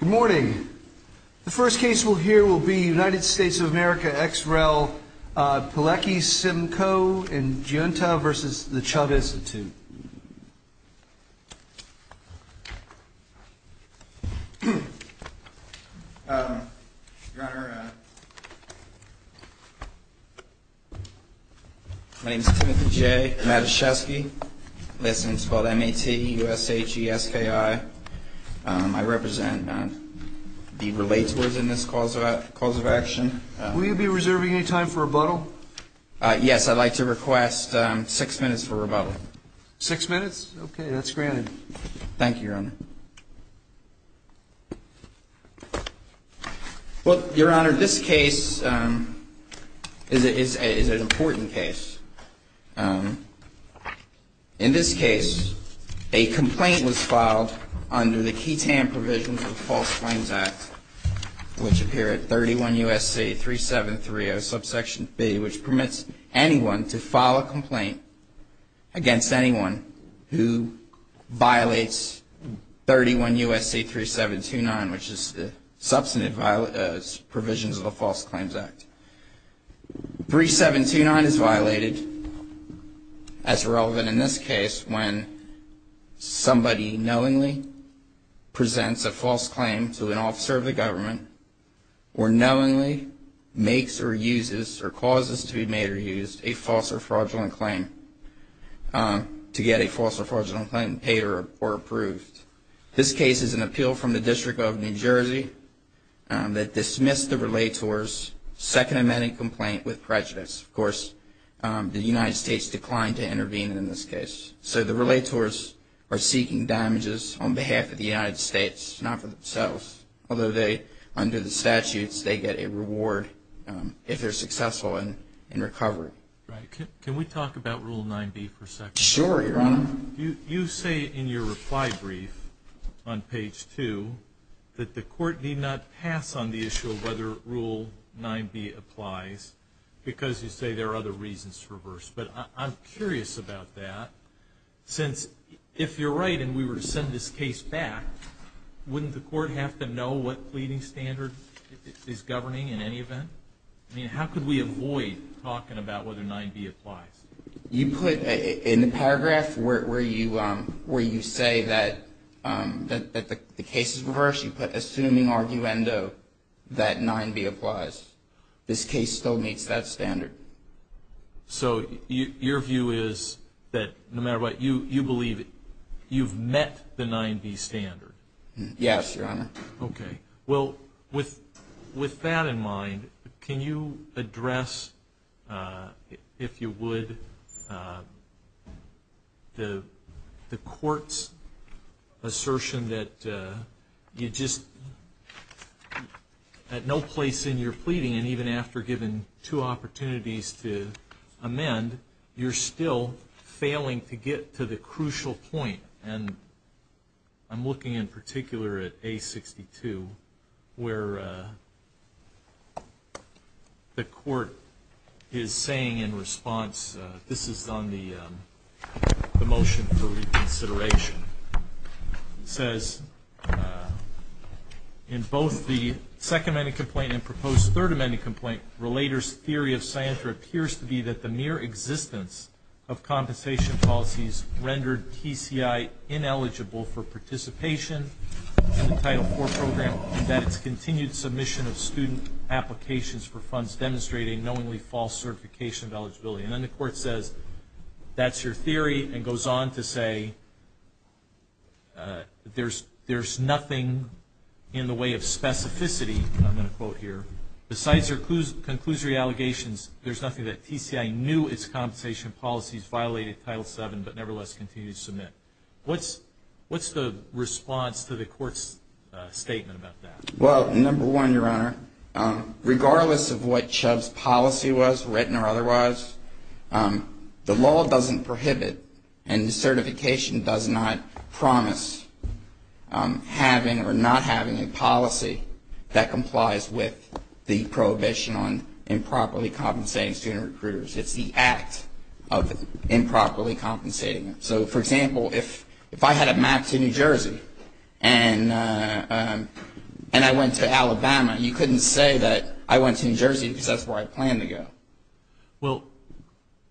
Good morning. The first case we'll hear will be United States of America X-Rail Pilecki-Simcoe in Junetown v. The CHUBBInstitute My name is Timothy J. Matuschewski. My last name is called M-A-T-U-S-H-E-S-T-A-I. I represent the related within this cause of action. Will you be reserving any time for rebuttal? Yes, I'd like to request six minutes for rebuttal. Six minutes? Okay, that's granted. Thank you, Your Honor. Well, Your Honor, this case is an important case. In this case, a complaint was filed under the QTAN provisions of the False Claims Act, which appear at 31 U.S.C. 3730, subsection 3, which permits anyone to file a complaint against anyone who violates 31 U.S.C. 3729, which is the substantive provisions of the False Claims Act. 3729 is violated as relevant in this case when somebody knowingly presents a false claim to an officer of the government or knowingly makes or uses or causes to be made or used a false or fraudulent claim to get a false or fraudulent claim paid or approved. This case is an appeal from the District of New Jersey that dismissed the relators' Second Amendment complaint with prejudice. Of course, the United States declined to intervene in this case. So the relators are seeking damages on behalf of the United States, not for themselves, although they, under the statutes, they get a reward if they're successful in recovery. Can we talk about Rule 9b for a second? Sure, Your Honor. You say in your reply brief on page 2 that the court need not pass on the issue of whether Rule 9b applies because you say there are other reasons for verse. But I'm curious about that, since if you're right and we were to send this case back, wouldn't the court have to know what pleading standard is governing in any event? I mean, how could we avoid talking about whether 9b applies? You put in the paragraph where you say that the case is reversed, you put assuming arguendo that 9b applies. This case still meets that standard. So your view is that no matter what, you believe you've met the 9b standard? Yes, Your Honor. Okay. Well, with that in mind, can you address, if you would, the court's assertion that you just, at no place in your pleading and even after giving two opportunities to amend, you're still failing to get to the crucial point? And I'm looking in particular at A62 where the court is saying in response, this is on the motion for reconsideration, says, in both the second amendment complaint and proposed third amendment complaint, the relator's theory of scientra appears to be that the mere existence of compensation policies rendered TCI ineligible for participation in the Title IV program and that its continued submission of student applications for funds demonstrating knowingly false certification of eligibility. And then the court says that's your theory and goes on to say there's nothing in the way of specificity, I'm going to quote here, besides your conclusory allegations, there's nothing that TCI knew its compensation policies violated Title VII but nevertheless continued to submit. What's the response to the court's statement about that? Well, number one, Your Honor, regardless of what Chubb's policy was, written or otherwise, the law doesn't prohibit and the certification does not promise having or not having a policy that complies with the prohibition on improperly compensating student recruiters. It's the act of improperly compensating them. So, for example, if I had a match in New Jersey and I went to Alabama, you couldn't say that I went to New Jersey because that's where I planned to go. Well,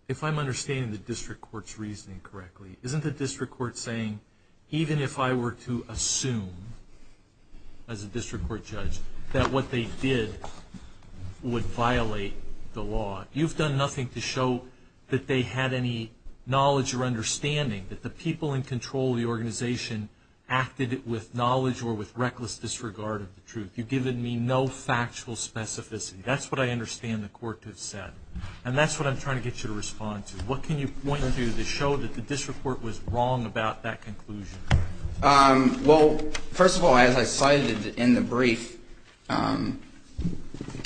if I'm understanding the district court's reasoning correctly, isn't the district court saying even if I were to assume, as a district court judge, that what they did would violate the law? You've done nothing to show that they had any knowledge or understanding, that the people in control of the organization acted with knowledge or with reckless disregard of the truth. You've given me no factual specificity. That's what I understand the court has said. And that's what I'm trying to get you to respond to. What can you want to do to show that the district court was wrong about that conclusion? Well, first of all, as I cited in the brief, a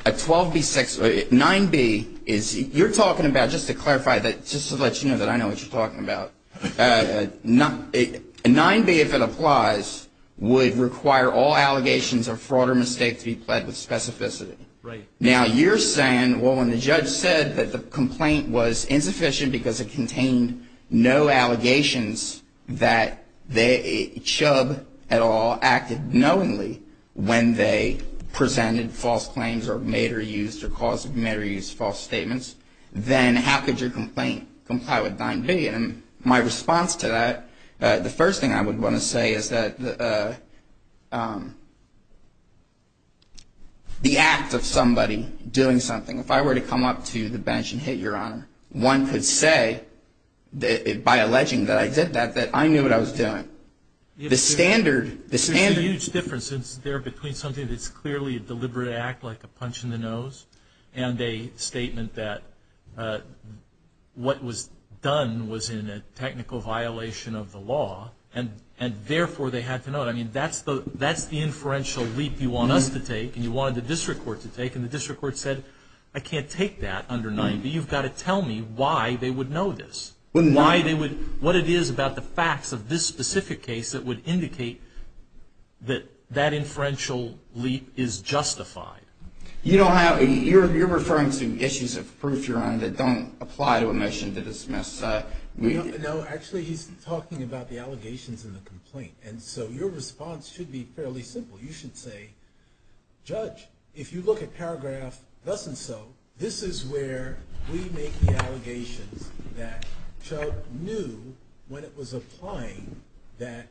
12B6 or 9B is you're talking about, just to clarify that, just to let you know that I know what you're talking about, a 9B, if it applies, would require all allegations of fraud or mistake to be pledged with specificity. Right. Now, you're saying, well, when the judge says that the complaint was insufficient because it contained no allegations that they, Chubb, at all, acted knowingly when they presented false claims or made or used or caused made or used false statements, then how could your complaint comply with 9B? And my response to that, the first thing I would want to say is that the act of somebody doing something, if I were to come up to the bench and hit your honor, one could say, by alleging that I did that, that I knew what I was doing. The standard, the standard. There's a huge difference there between something that's clearly a deliberate act like a punch in the nose and a statement that what was done was in a technical violation of the law, and therefore they had to know it. I mean, that's the inferential leap you want us to take and you want the district court to take, and the district court said, I can't take that under 9B. You've got to tell me why they would know this, what it is about the facts of this specific case that would indicate that that inferential leap is justified. You don't have, you're referring to issues of proof, your honor, that don't apply to a motion to dismiss. No, actually he's talking about the allegations in the complaint, and so your response should be fairly simple. You should say, judge, if you look at paragraph thus and so, this is where we make the allegation that Chuck knew when it was applying that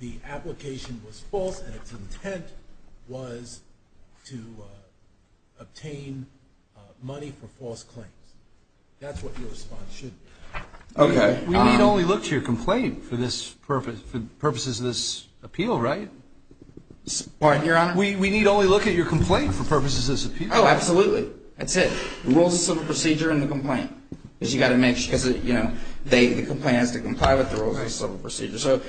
the application was false and its intent was to obtain money for false claims. That's what your response should be. Okay. We need only look to your complaint for the purposes of this appeal, right? Pardon, your honor? We need only look at your complaint for purposes of this appeal. Oh, absolutely. That's it. Rules of civil procedure and the complaint, because you've got to make sure that, you know, the complaint has to comply with the rules of civil procedure. So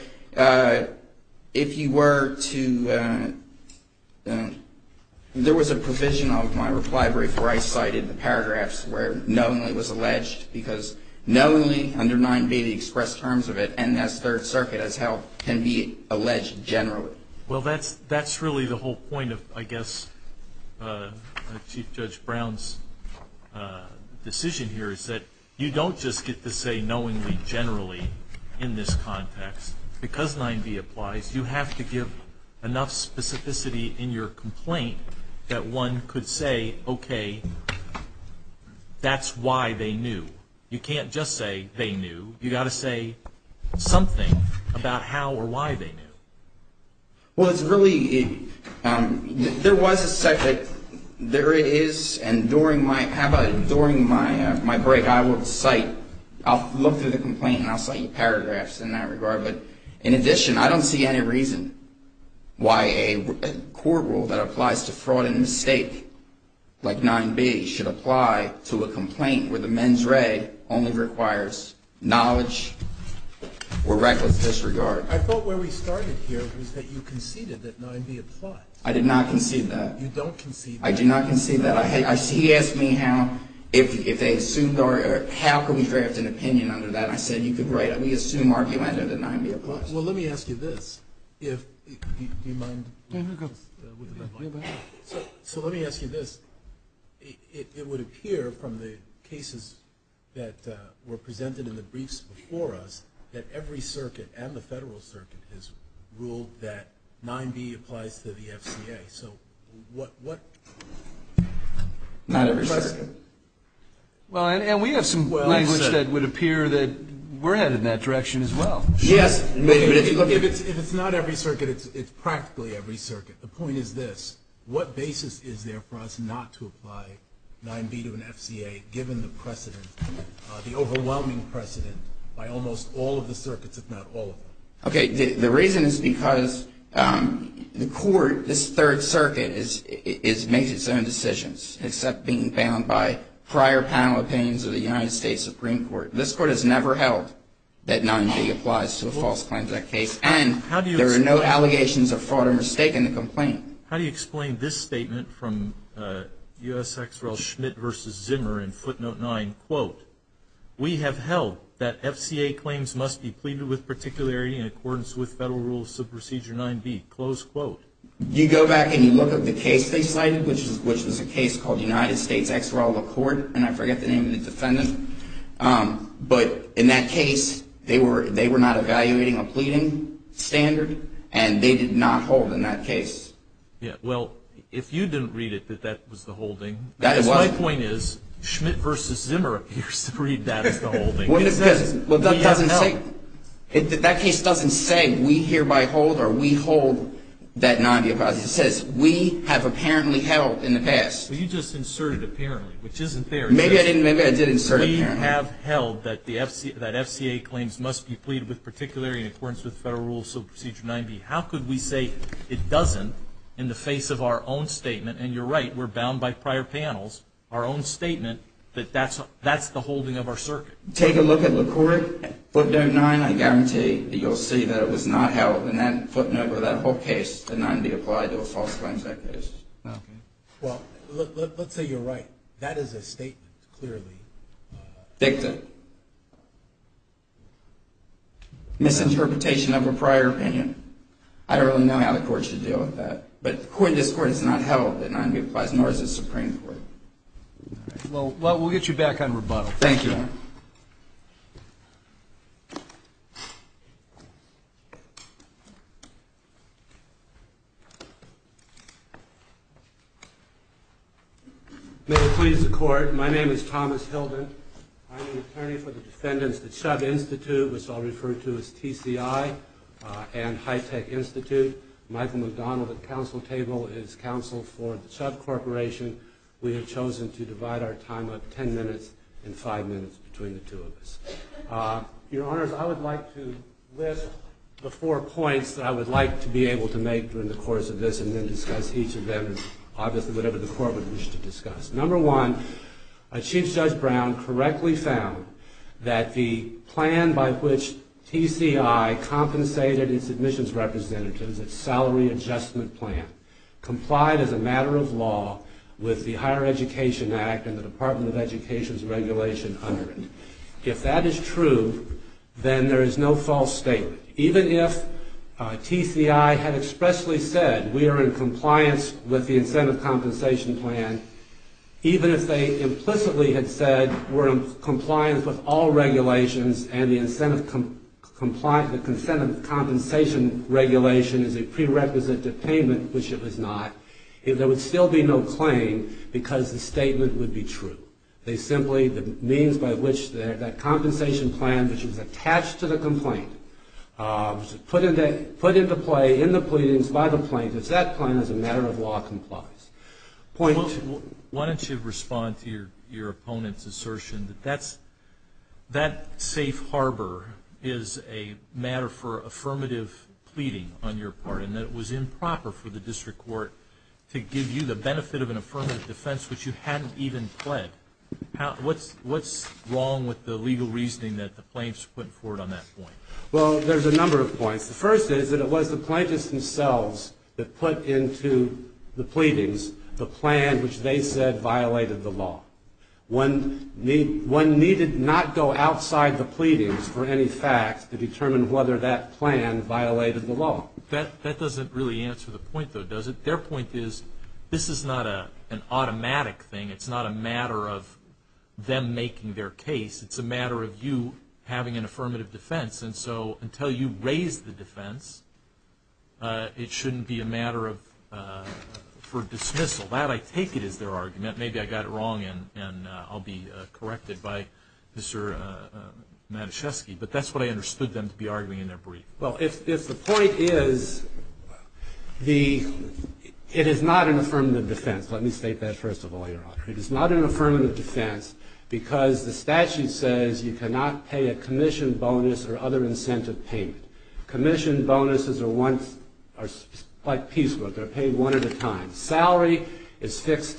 if you were to, there was a provision on my reply where I cited the paragraphs where knowingly was alleged, because knowingly, under 9b, the express terms of it, and that's Third Circuit, as hell, can be alleged generally. Well, that's really the whole point of, I guess, Chief Judge Brown's decision here, is that you don't just get to say knowingly generally in this context. Because 9b applies, you have to give enough specificity in your complaint that one could say, okay, that's why they knew. You can't just say they knew. You've got to say something about how or why they knew. Well, it's really, there was a section, there it is, and during my, how about it, during my break, I will cite, I'll look through the complaint and I'll cite the paragraphs in that regard. But in addition, I don't see any reason why a court rule that applies to fraud and mistake, like 9b, should apply to a complaint where the mens rea only requires knowledge or record disregard. I thought where we started here was that you conceded that 9b applies. I did not concede that. You don't concede that. I did not concede that. He asked me how, if they assumed, or how can we draft an opinion on that. I said, you could write a reassumed argument that 9b applies. Well, let me ask you this. Do you mind? No, no, go ahead. So let me ask you this. It would appear from the cases that were presented in the briefs before us that every circuit and the federal circuit has ruled that 9b applies to the FCA. So what? Not every circuit. Well, and we have some language that would appear that we're headed in that direction as well. Yes. If it's not every circuit, it's practically every circuit. The point is this. What basis is there for us not to apply 9b to an FCA, given the precedent, the overwhelming precedent by almost all of the circuits, if not all of them? Okay. The reason is because the court, this Third Circuit, makes its own decisions, except being bound by prior panel opinions of the United States Supreme Court. This Court has never held that 9b applies to a false claim to that case. And there are no allegations of fraud or mistake in the complaint. How do you explain this statement from U.S. ex-rel Schmidt v. Zimmer in footnote 9? Quote, we have held that FCA claims must be pleaded with particularity in accordance with Federal Rules of Procedure 9b. Close quote. You go back and you look at the case they cited, which was a case called the United States Ex-Rel Accord, and I forget the name of the defendant. But in that case, they were not evaluating a pleading standard, and they did not hold in that case. Well, if you didn't read it that that was the holding, my point is Schmidt v. Zimmer appears to read that as the holding. That case doesn't say we hereby hold or we hold that 9b applies. It says we have apparently held in the past. Well, you just inserted apparently, which isn't fair. Maybe I did insert it there. We have held that FCA claims must be pleaded with particularity in accordance with Federal Rules of Procedure 9b. How could we say it doesn't in the face of our own statement, and you're right, we're bound by prior panels, our own statement, that that's the holding of our circuit. Take a look at the court footnote 9. I guarantee you'll see that it was not held in that footnote or that whole case that 9b applied or false claims like this. Okay. Well, let's say you're right. That is a statement clearly. Dixon. Misinterpretation of a prior opinion. I don't really know how the court should deal with that, but according to this court it's not held that 9b applies nor is it supreme court. Well, we'll get you back on rebuttal. Thank you. Mr. Chairman. May it please the court. My name is Thomas Hilden. I'm an attorney for the defendants of the Chubb Institute, which I'll refer to as TCI and High Tech Institute. Michael McDonald at counsel table is counsel for the Chubb Corporation. We have chosen to divide our time up 10 minutes and 5 minutes between the two of us. Your Honors, I would like to list the four points that I would like to be able to make during the course of this and then discuss each of them and obviously whatever the court would wish to discuss. Number one, Chief Judge Brown correctly found that the plan by which TCI compensated its admissions representatives, its salary adjustment plan, complied as a matter of law with the Higher Education Act and the Department of Education's regulation under it. If that is true, then there is no false statement. Even if TCI had expressly said we are in compliance with the incentive compensation plan, even if they implicitly had said we're in compliance with all regulations which it was not, there would still be no claim because the statement would be true. They simply, the means by which that compensation plan, which is attached to the complaint, put into play in the pleadings by the plaintiffs, that plan is a matter of law complies. Why don't you respond to your opponent's assertion that that safe harbor is a matter for affirmative pleading on your part and that it was improper for the district court to give you the benefit of an affirmative defense which you hadn't even pled. What's wrong with the legal reasoning that the plaintiffs put forth on that point? Well, there's a number of points. The first is that it was the plaintiffs themselves that put into the pleadings the plan which they said violated the law. One needed not go outside the pleadings for any facts to determine whether that plan violated the law. That doesn't really answer the point, though, does it? Their point is this is not an automatic thing. It's not a matter of them making their case. It's a matter of you having an affirmative defense. And so until you raise the defense, it shouldn't be a matter for dismissal. I'm glad I take it as their argument. Maybe I got it wrong and I'll be corrected by Mr. Matuszewski, but that's what I understood them to be arguing in their brief. Well, if the point is it is not an affirmative defense. Let me state that first of all, Your Honor. It is not an affirmative defense because the statute says you cannot pay a commission bonus or other incentive payment. Commission bonuses are one piece, but they're paid one at a time. Salary is fixed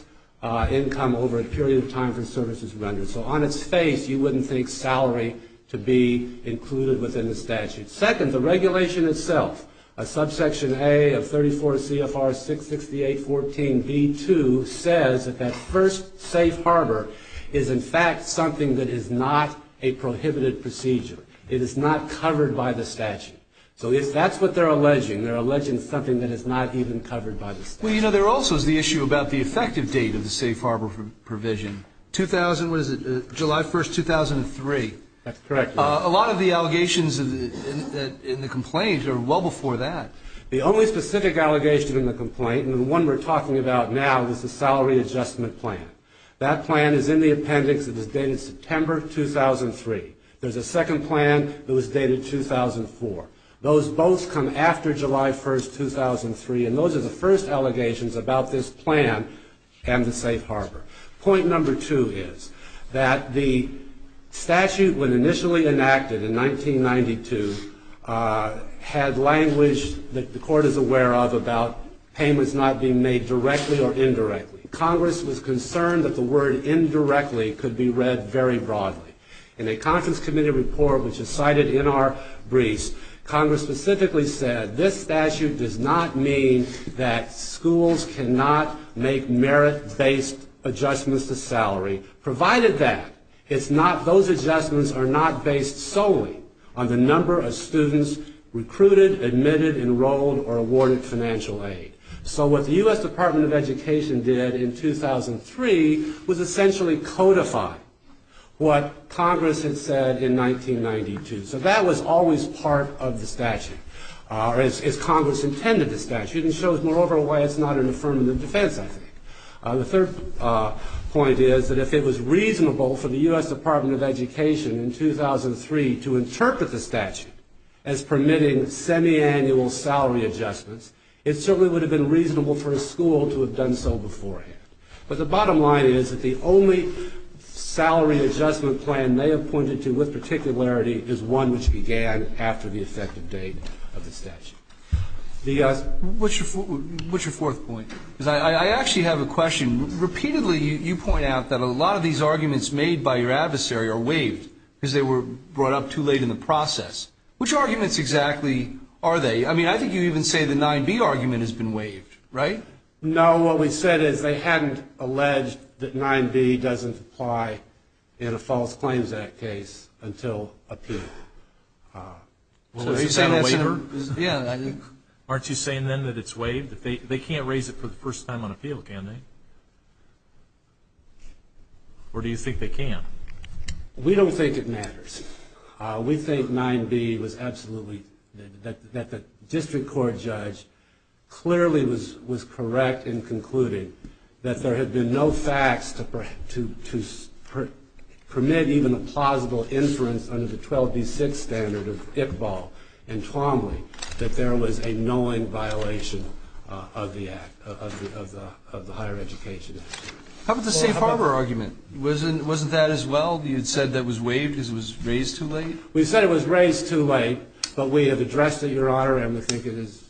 income over a period of time for services rendered. So on its face, you wouldn't think salary to be included within the statute. Second, the regulation itself, a subsection A of 34 CFR 668.14b.2, says that that first safe harbor is in fact something that is not a prohibited procedure. It is not covered by the statute. So that's what they're alleging. They're alleging something that is not even covered by the statute. Well, you know, there also is the issue about the effective date of the safe harbor provision. 2000, what is it, July 1st, 2003. That's correct. A lot of the allegations in the complaints are well before that. The only specific allegation in the complaint, and the one we're talking about now, is the salary adjustment plan. That plan is in the appendix and is dated September 2003. There's a second plan that was dated 2004. Those votes come after July 1st, 2003, and those are the first allegations about this plan and the safe harbor. Point number two is that the statute, when initially enacted in 1992, had language that the court is aware of about payments not being made directly or indirectly. Congress was concerned that the word indirectly could be read very broadly. In a conference committee report, which is cited in our briefs, Congress specifically said this statute does not mean that schools cannot make merit-based adjustments to salary, provided that those adjustments are not based solely on the number of students recruited, admitted, enrolled, or awarded financial aid. So what the U.S. Department of Education did in 2003 was essentially codify what Congress had said in 1992. So that was always part of the statute, or as Congress intended the statute, and shows moreover why it's not an affirmative defense. The third point is that if it was reasonable for the U.S. Department of Education in 2003 to interpret the statute as permitting semiannual salary adjustments, it certainly would have been reasonable for a school to have done so beforehand. But the bottom line is that the only salary adjustment plan they have pointed to with particularity is one which began after the effective date of the statute. What's your fourth point? I actually have a question. Repeatedly you point out that a lot of these arguments made by your adversary are waived because they were brought up too late in the process. Which arguments exactly are they? I mean, I think you even say the 9B argument has been waived, right? No. What we said is they hadn't alleged that 9B doesn't apply in a False Claims Act case until appeal. So they say that's a waiver? Yeah. Aren't you saying then that it's waived? They can't raise it for the first time on appeal, can they? Or do you think they can? We don't think it matters. We think 9B was absolutely that the district court judge clearly was correct in concluding that there had been no facts to permit even a plausible inference under the 12B6 standard of Iqbal and Trombley that there was a knowing violation of the higher education. How about the State Farmer argument? Wasn't that as well? You had said that was waived because it was raised too late? We said it was raised too late, but we have addressed it, Your Honor, and I think it is.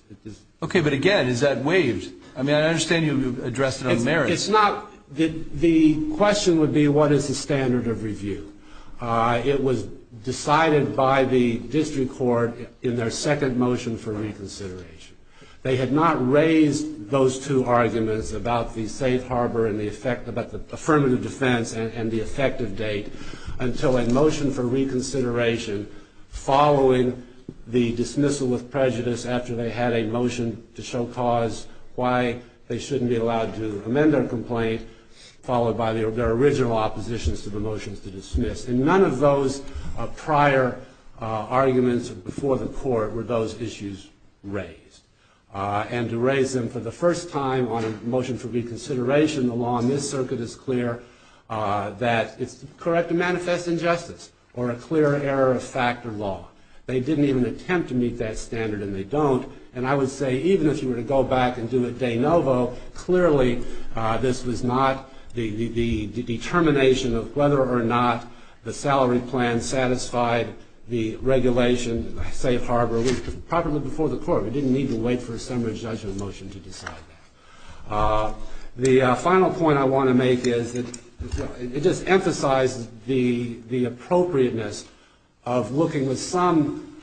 Okay, but again, is that waived? I mean, I understand you addressed it on merit. It's not. The question would be what is the standard of review? It was decided by the district court in their second motion for reconsideration. They had not raised those two arguments about the safe harbor and the affirmative defense and the effective date until a motion for reconsideration following the dismissal of prejudice after they had a motion to show cause why they shouldn't be allowed to amend their complaint, followed by their original opposition to the motion to dismiss. And none of those prior arguments before the court were those issues raised. And to raise them for the first time on a motion for reconsideration along this circuit is clear that it's correct to manifest injustice or a clear error of fact or law. They didn't even attempt to meet that standard, and they don't. And I would say even if you were to go back and do it de novo, clearly this was not the determination of whether or not the salary plan satisfied the regulations, the safe harbor, probably before the court. We didn't need to wait for a summary judgment motion to decide that. The final point I want to make is it just emphasizes the appropriateness of looking with some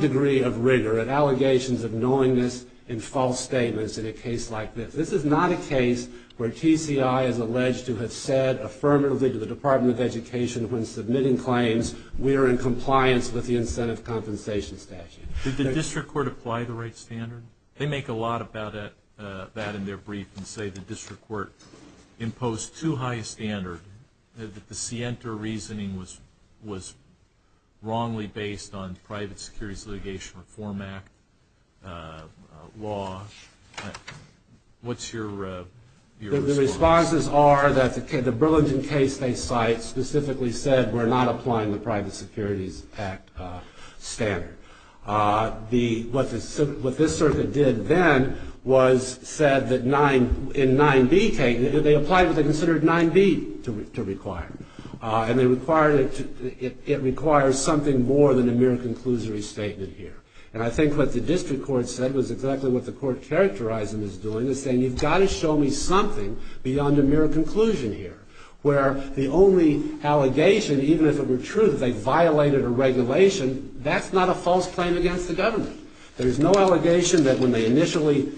degree of rigor at allegations of knowingness in false statements in a case like this. This is not a case where TCI is alleged to have said affirmatively to the Department of Education when submitting claims we are in compliance with the incentive compensation statute. Did the district court apply the right standard? They make a lot about that in their brief and say the district court imposed too high a standard, that the Sienta reasoning was wrongly based on private securities litigation reform act law. What's your response? The responses are that the Burlington case they cite specifically said we're not applying the private securities act standard. What this circuit did then was said that in 9B case, they applied what they considered 9B to require. It requires something more than a mere conclusory statement here. And I think what the district court said was exactly what the court characterized in this doing, is saying you've got to show me something beyond a mere conclusion here, where the only allegation, even if it were true that they violated a regulation, that's not a false claim against the government. There's no allegation that when they initially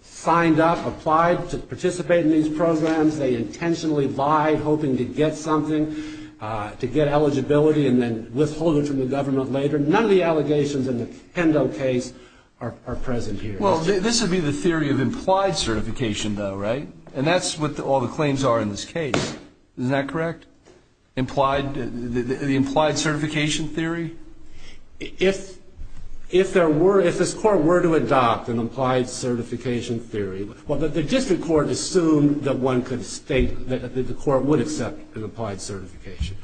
signed up, applied to participate in these programs, they intentionally buy, hoping to get something, to get eligibility, and then withhold it from the government later. None of the allegations in the Hendo case are present here. Well, this would be the theory of implied certification though, right? And that's what all the claims are in this case. Isn't that correct? The implied certification theory? If there were, if this court were to adopt an implied certification theory, well, the district court assumed that one could state that the court would accept an implied certification.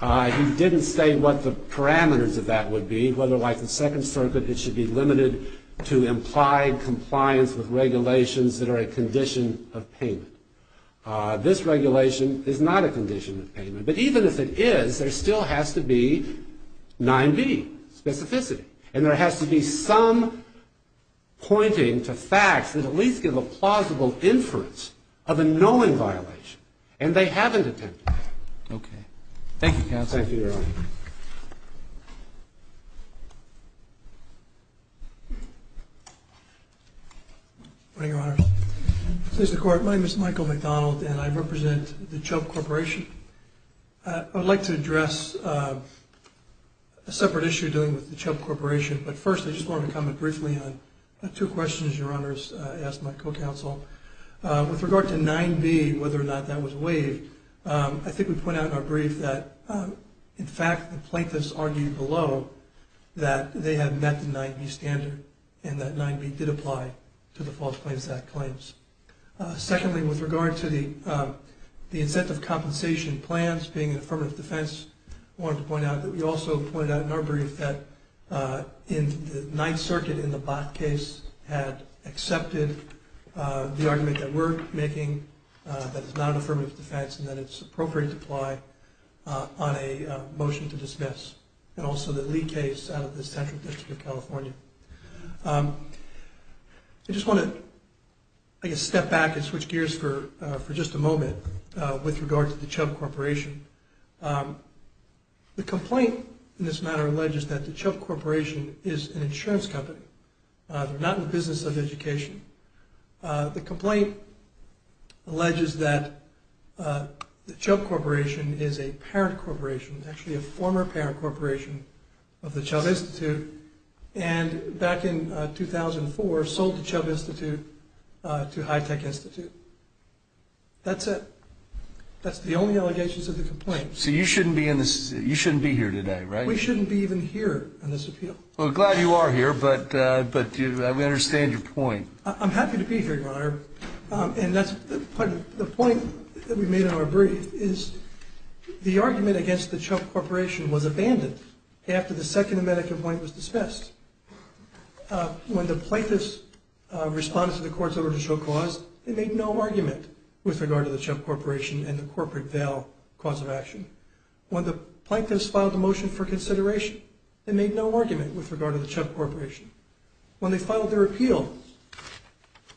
He didn't say what the parameters of that would be, whether like the Second Circuit, that it should be limited to implied compliance with regulations that are a condition of payment. This regulation is not a condition of payment. But even if it is, there still has to be 9b, specificity. And there has to be some pointing to facts that at least give a plausible inference of a knowing violation. And they haven't attempted that. Okay. Thank you, counsel. Thank you, Your Honor. Good morning, Your Honor. This is the court. My name is Michael McDonald, and I represent the Chubb Corporation. I would like to address a separate issue to the Chubb Corporation, but first I just wanted to comment briefly on two questions Your Honor has asked my co-counsel. With regard to 9b, whether or not that was waived, I think we pointed out in our brief that, in fact, the plaintiffs argued below that they had met the 9b standard and that 9b did apply to the False Claims Act claims. Secondly, with regard to the incentive compensation plans being a permanent defense, I wanted to point out that we also pointed out in our brief that in the Ninth Circuit, the plaintiff in the Bott case had accepted the argument that we're making that it's not a permanent defense and that it's appropriate to apply on a motion to dismiss, and also the Lee case out of the Second District of California. I just want to, I guess, step back and switch gears for just a moment with regard to the Chubb Corporation. The complaint in this matter alleges that the Chubb Corporation is an insurance company. They're not in the business of education. The complaint alleges that the Chubb Corporation is a parent corporation, actually a former parent corporation of the Chubb Institute, and back in 2004 sold the Chubb Institute to High Tech Institute. That's it. That's the only allegations of the complaint. So you shouldn't be here today, right? We shouldn't be even here on this appeal. Well, I'm glad you are here, but I understand your point. I'm happy to be here, Your Honor, and that's the point that we made in our brief, is the argument against the Chubb Corporation was abandoned after the second amendment complaint was dismissed. When the plaintiffs responded to the court's original clause, they made no argument with regard to the Chubb Corporation and the corporate bail cause of action. When the plaintiffs filed a motion for consideration, they made no argument with regard to the Chubb Corporation. When they filed their appeal,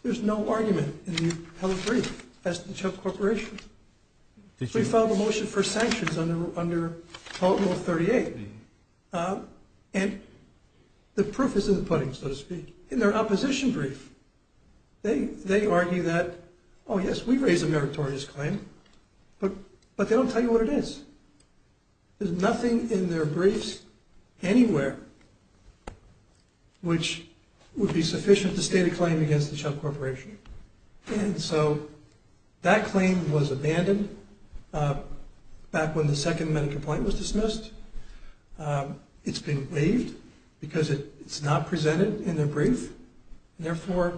there's no argument in the held brief as to the Chubb Corporation. We filed a motion for sanctions under Article 38, and the proof is in the pudding, so to speak. In their opposition brief, they argue that, oh, yes, we raised a meritorious claim, but they don't tell you what it is. There's nothing in their briefs anywhere which would be sufficient to state a claim against the Chubb Corporation. And so that claim was abandoned back when the second amendment complaint was dismissed. It's been waived because it's not presented in their brief. Therefore,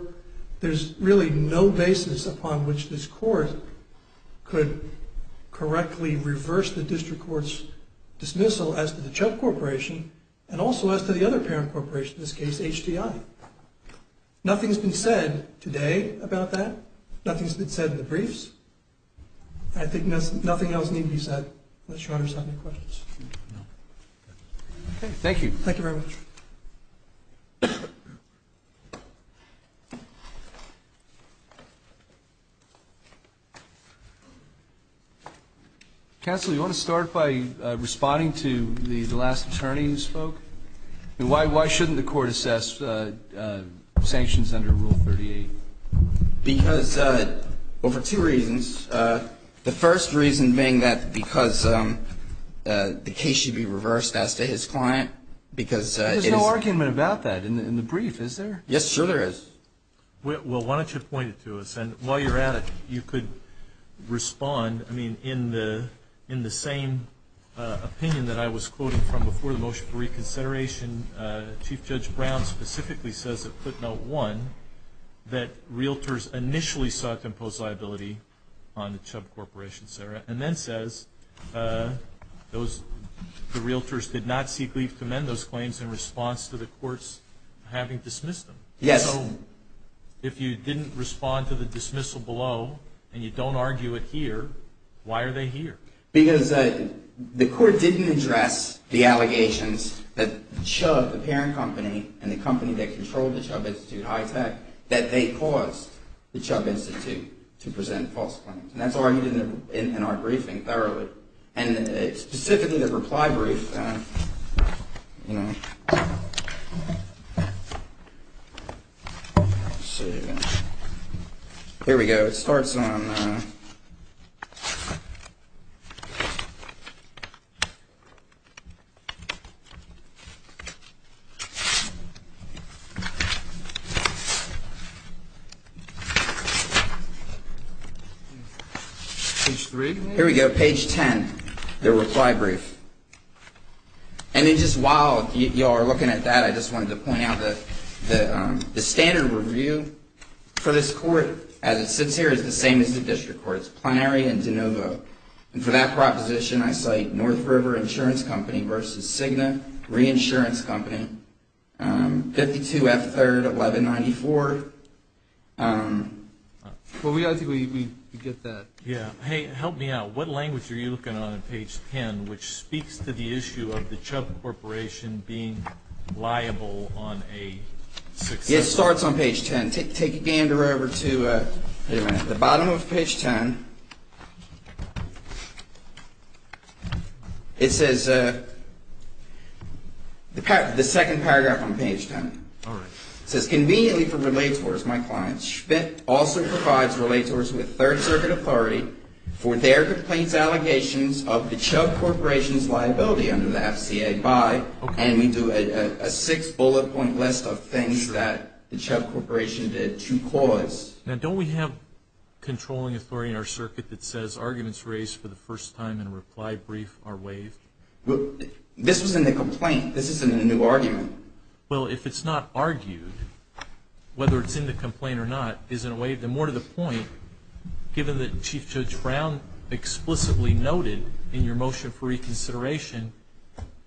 there's really no basis upon which this court could correctly reverse the district court's dismissal as to the Chubb Corporation and also as to the other parent corporation, in this case, HDI. Nothing's been said today about that. Nothing's been said in the briefs. I think nothing else needs to be said on the shorter side of the questions. Thank you. Thank you very much. Counsel, do you want to start by responding to the last attorney who spoke? Why shouldn't the court assess sanctions under Rule 38? Because of two reasons. The first reason being that because the case should be reversed as to his client because... There's no argument about that in the brief, is there? Yes, sure there is. Well, why don't you point it to us, and while you're at it, you could respond. In the same opinion that I was quoting from before the motion for reconsideration, Chief Judge Brown specifically says at footnote one that realtors initially sought to impose liability on the Chubb Corporation, Sarah, and then says the realtors did not seek leave to amend those claims in response to the courts having dismissed them. Yes. So, if you didn't respond to the dismissal below, and you don't argue it here, why are they here? Because the court didn't address the allegations that Chubb, the parent company, and the company that controls the Chubb Institute, Hytech, that they caused the Chubb Institute to present false claims. And that's argued in our briefing thoroughly. And specifically the requirements... Here we go. It starts on... Here we go, page 10, the reply brief. And it's just wild. You all are looking at that. I just wanted to point out that the standard review for this court, as it sits here, is the same as the district courts, Plenary and DeNovo. And for that proposition, I cite North River Insurance Company versus Cigna Reinsurance Company, 52 F. 3rd, 1194. We get that. Yeah. Hey, help me out. What language are you looking on on page 10, which speaks to the issue of the Chubb Corporation being liable on a... It starts on page 10. Take a gander over to... Wait a minute. At the bottom of page 10, it says... The second paragraph on page 10. All right. It says... Now, don't we have controlling authority in our circuit that says arguments raised for the first time in a reply brief are waived? This isn't a complaint. This isn't a new argument. Well, if it's not argued, whether it's in the complaint or not, isn't waived. And more to the point, given that Chief Judge Brown explicitly noted in your motion for reconsideration,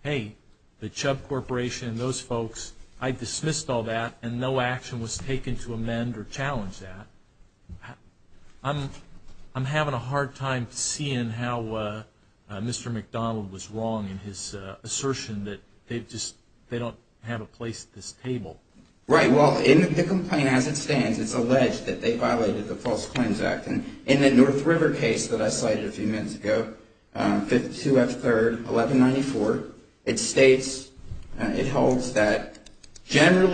hey, the Chubb Corporation and those folks, I dismissed all that and no action was taken to amend or challenge that. I'm having a hard time seeing how Mr. McDonald was wrong in his assertion that they don't have a place at this table. Right. Well, in the complaint as it stands, it's alleged that they violated the False Claims Act. In the North River case that I cited a few minutes ago, 52 F. 3rd, 1194, it states, it holds that... However,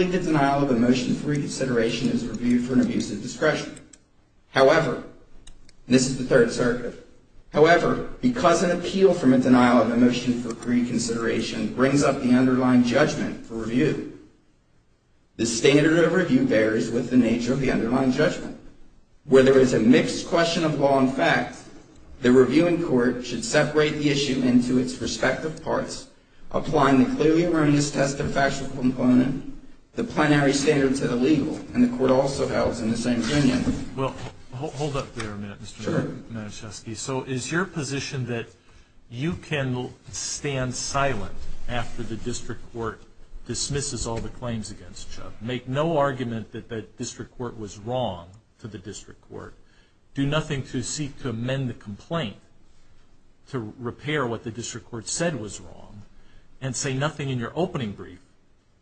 this is the Third Circuit. However, because an appeal from a denial of a motion for reconsideration brings up the underlying judgment for review, the standard of review bears with the nature of the underlying judgment. Where there is a mixed question of law and fact, the reviewing court should separate the issue into its respective parts, applying the clear and earnest test of factual component, the plenary standard for the legal, and the court also held in the same opinion. Well, hold up there a minute, Mr. Manischewski. So is your position that you can stand silent after the district court dismisses all the claims against Chubb, make no argument that the district court was wrong to the district court, do nothing to seek to amend the complaint to repair what the district court said was wrong, and say nothing in your opening brief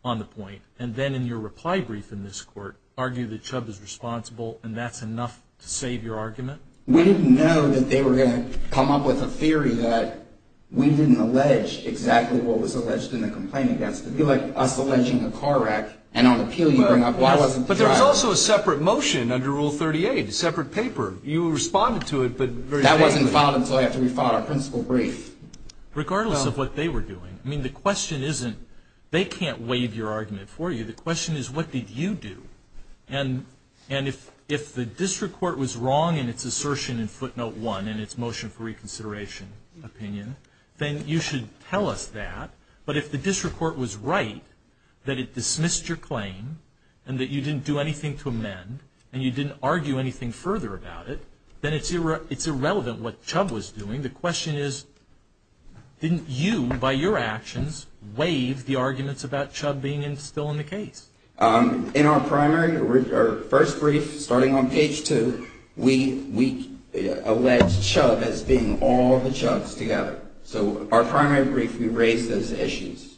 on the point, and then in your reply brief in this court, argue that Chubb is responsible and that's enough to save your argument? We didn't know that they were going to come up with a theory that we didn't allege exactly what was alleged in the complaint against us. It would be like us alleging the car wreck, and on the appeal you bring up what wasn't correct. But there's also a separate motion under Rule 38, a separate paper. You responded to it, but… That wasn't filed until after we filed our principal brief. Regardless of what they were doing. I mean, the question isn't, they can't waive your argument for you. The question is, what did you do? And if the district court was wrong in its assertion in footnote one, in its motion for reconsideration opinion, then you should tell us that. But if the district court was right, that it dismissed your claim, and that you didn't do anything to amend, and you didn't argue anything further about it, then it's irrelevant what Chubb was doing. The question is, didn't you, by your actions, waive the arguments about Chubb being still in the case? In our primary, our first brief, starting on page two, we allege Chubb as being all the Chubbs together. So, our primary brief, we raised those issues.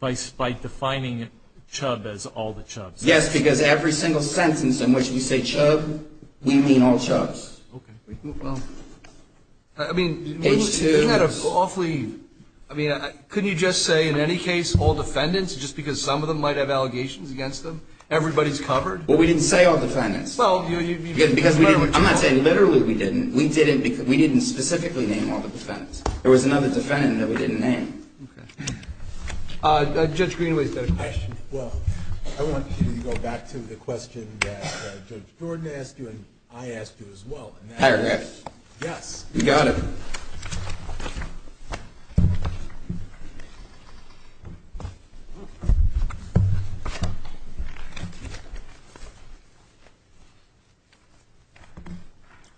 By defining Chubb as all the Chubbs. Yes, because every single sentence in which we say Chubb, we mean all Chubbs. Okay. I mean, you had an awfully, I mean, couldn't you just say, in any case, all defendants, just because some of them might have allegations against them? Everybody's covered? Well, we didn't say all defendants. I'm not saying literally we didn't. We didn't specifically name all the defendants. There was another defendant that we didn't name. Judge Greenway. Well, I want to go back to the question that Judge Gordon asked you and I asked you as well. Hi, Rex. Yeah. You got it.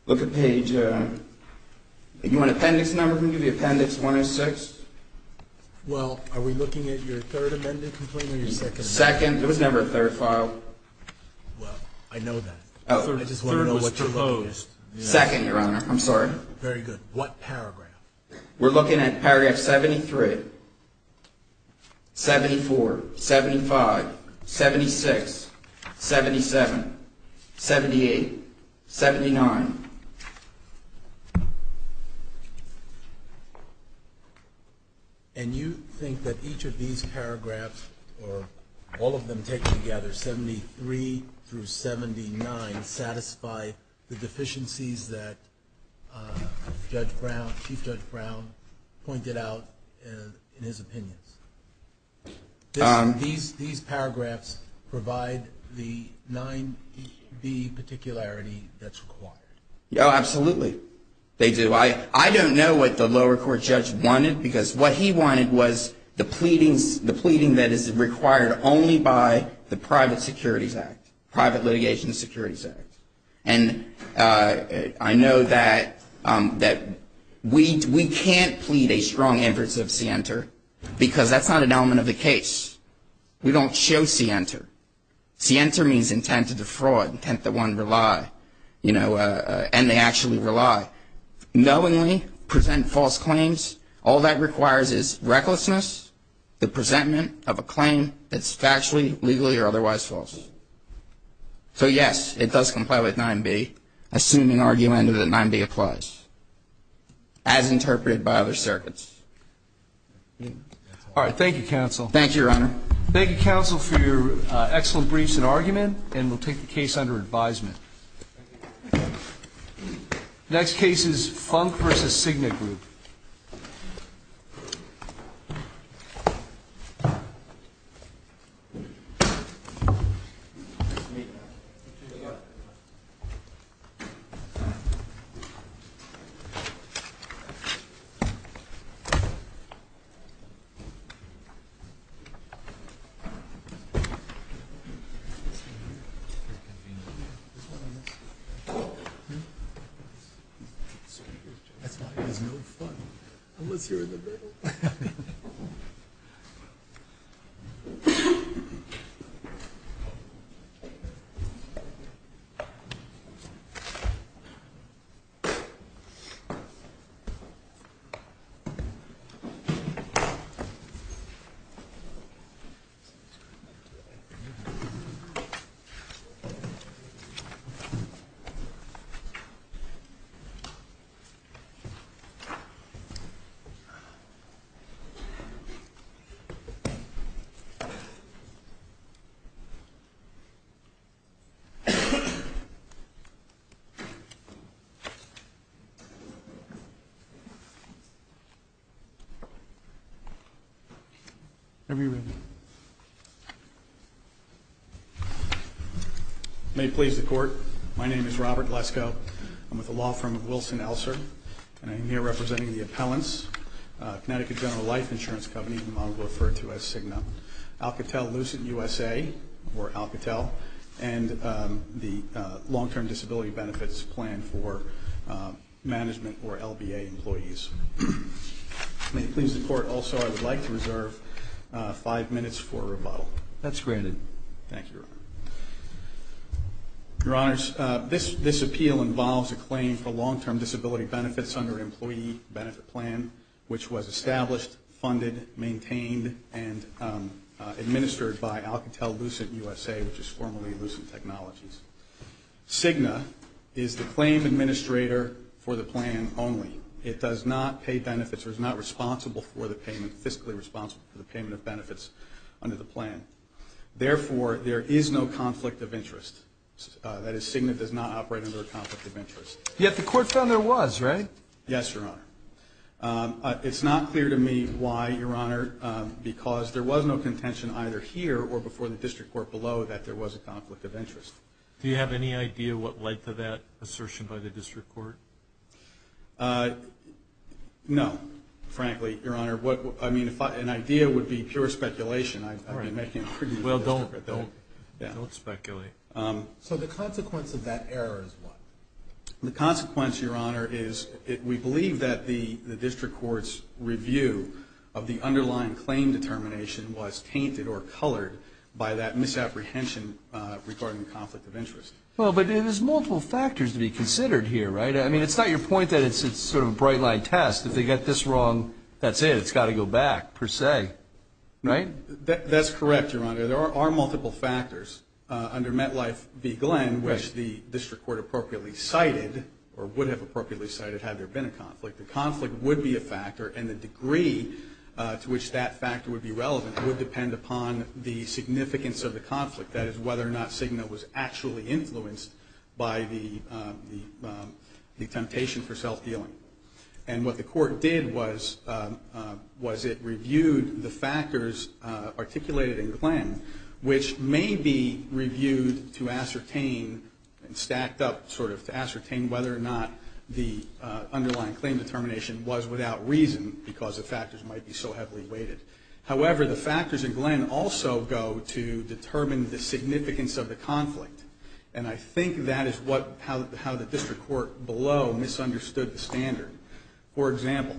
Look at page, you want an appendix number? Can you give me appendix 106? Well, are we looking at your third amendment completely or your second amendment? Second, but it's never a third file. Well, I know that. Oh. Second, Your Honor. I'm sorry. Very good. What paragraph? We're looking at paragraph 73, 74, 75, 76, 77, 78, 79. And you think that each of these paragraphs or all of them taken together, 73 through 79, satisfy the deficiencies that Judge Brown, Chief Judge Brown pointed out in his opinion. These paragraphs provide the 9B particularity that's required. Oh, absolutely. They do. So I don't know what the lower court judge wanted because what he wanted was the pleading that is required only by the private securities act, private litigation securities act. And I know that we can't plead a strong emphasis of scienter because that's not an element of the case. We don't show scienter. Scienter means intent to defraud, intent that one rely, you know, and they actually rely. Knowingly present false claims, all that requires is recklessness, the presentment of a claim that's factually, legally, or otherwise false. So, yes, it does comply with 9B, assuming argument that 9B applies as interpreted by other circuits. All right. Thank you, Your Honor. Thank you, counsel, for your excellent briefs and argument. And we'll take the case under advisement. Next case is Funk v. Signet Group. Thank you. Have a seat, please. May it please the court. My name is Robert Lesko. I'm with the law firm of Wilson Elsor, and I'm here representing the appellants, Connecticut General Life Insurance Company, which I'll refer to as CIGNA, Alcatel Lucent USA, or Alcatel, and the long-term disability benefits plan for management for LBA employees. May it please the court also I would like to reserve five minutes for rebuttal. That's granted. Thank you. Your Honor, this appeal involves a claim for long-term disability benefits under an employee benefit plan, which was established, funded, maintained, and administered by Alcatel Lucent USA, which is formerly Lucent Technologies. CIGNA is the claim administrator for the plan only. It does not pay benefits or is not responsible for the payment, fiscally responsible for the payment of benefits under the plan. Therefore, there is no conflict of interest. That is, CIGNA does not operate under a conflict of interest. Yet the court found there was, right? Yes, Your Honor. It's not clear to me why, Your Honor, because there was no contention either here or before the district court below that there was a conflict of interest. Do you have any idea what led to that assertion by the district court? No, frankly, Your Honor. What, I mean, an idea would be pure speculation. I don't know. It might seem pretty well done, but don't speculate. So the consequence of that error is what? The consequence, Your Honor, is we believe that the district court's review of the underlying claim determination was tainted or colored by that misapprehension regarding the conflict of interest. Well, but there's multiple factors to be considered here, right? I mean, it's not your point that it's just sort of a bright-line test. If they get this wrong, that's it. It's got to go back, per se, right? That's correct, Your Honor. There are multiple factors. Under MetLife v. Glenn, which the district court appropriately cited or would have appropriately cited had there been a conflict, the conflict would be a factor, and the degree to which that factor would be relevant would depend upon the significance of the conflict, that is, whether or not SIGMA was actually influenced by the temptation for self-dealing. And what the court did was it reviewed the factors articulated in Glenn, which may be reviewed to ascertain, and stacked up sort of to ascertain whether or not the underlying claim determination was without reason because the factors might be so heavily weighted. However, the factors in Glenn also go to determine the significance of the conflict, and I think that is how the district court below misunderstood the standard. For example,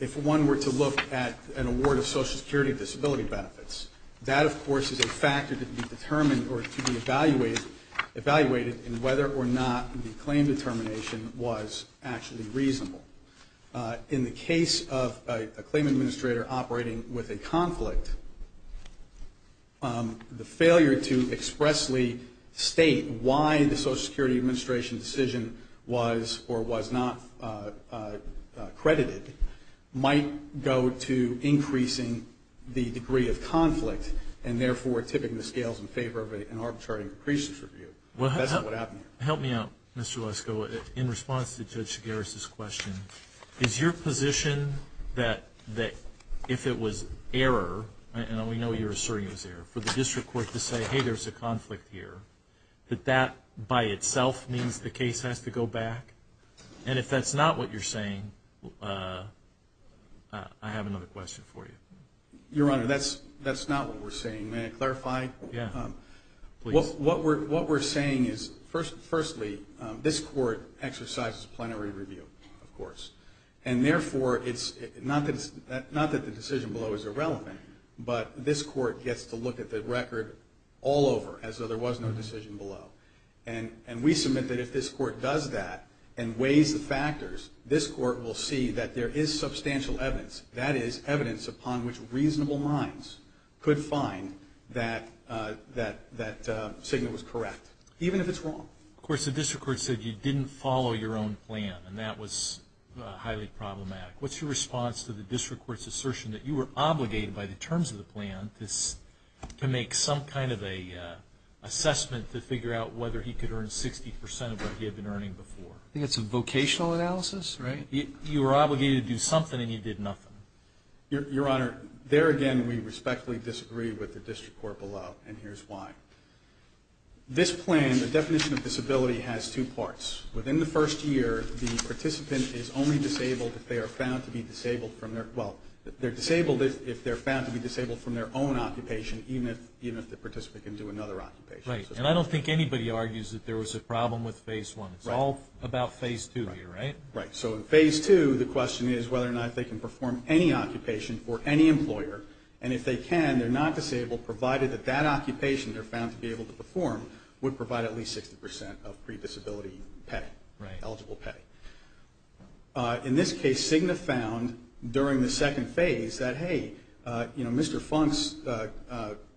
if one were to look at an award of Social Security disability benefits, that, of course, is a factor to be determined or to be evaluated in whether or not the claim determination was actually reasonable. In the case of a claim administrator operating with a conflict, the failure to expressly state why the Social Security administration decision was or was not credited might go to increasing the degree of conflict and therefore tipping the scales in favor of an arbitrary increases review. That's what happened. Help me out, Mr. Lesko. In response to Judge Chigares' question, is your position that if it was error, and we know you're asserting it was error, for the district court to say, hey, there's a conflict here, that that by itself means the case has to go back? And if that's not what you're saying, I have another question for you. Your Honor, that's not what we're saying. May I clarify? Yeah. What we're saying is, firstly, this court exercises a plenary review, of course, and therefore it's not that the decision below is irrelevant, but this court gets to look at the record all over as though there was no decision below. And we submit that if this court does that and weighs the factors, this court will see that there is substantial evidence. That is, evidence upon which reasonable minds could find that statement was correct, even if it's wrong. Of course, the district court said you didn't follow your own plan, and that was highly problematic. What's your response to the district court's assertion that you were obligated by the terms of the plan to make some kind of an assessment to figure out whether he could earn 60% of what he had been earning before? I think it's a vocational analysis, right? You were obligated to do something, and you did nothing. Your Honor, there again we respectfully disagree with the district court below, and here's why. This plan, the definition of disability, has two parts. Within the first year, the participant is only disabled if they are found to be disabled from their own occupation, even if the participant can do another occupation. Right. And I don't think anybody argues that there was a problem with Phase 1. It's all about Phase 2 here, right? Right. So in Phase 2, the question is whether or not they can perform any occupation for any employer. And if they can, they're not disabled, provided that that occupation they're found to be able to perform would provide at least 60% of pre-disability pay, eligible pay. In this case, Cigna found during the second phase that, hey, Mr. Funk's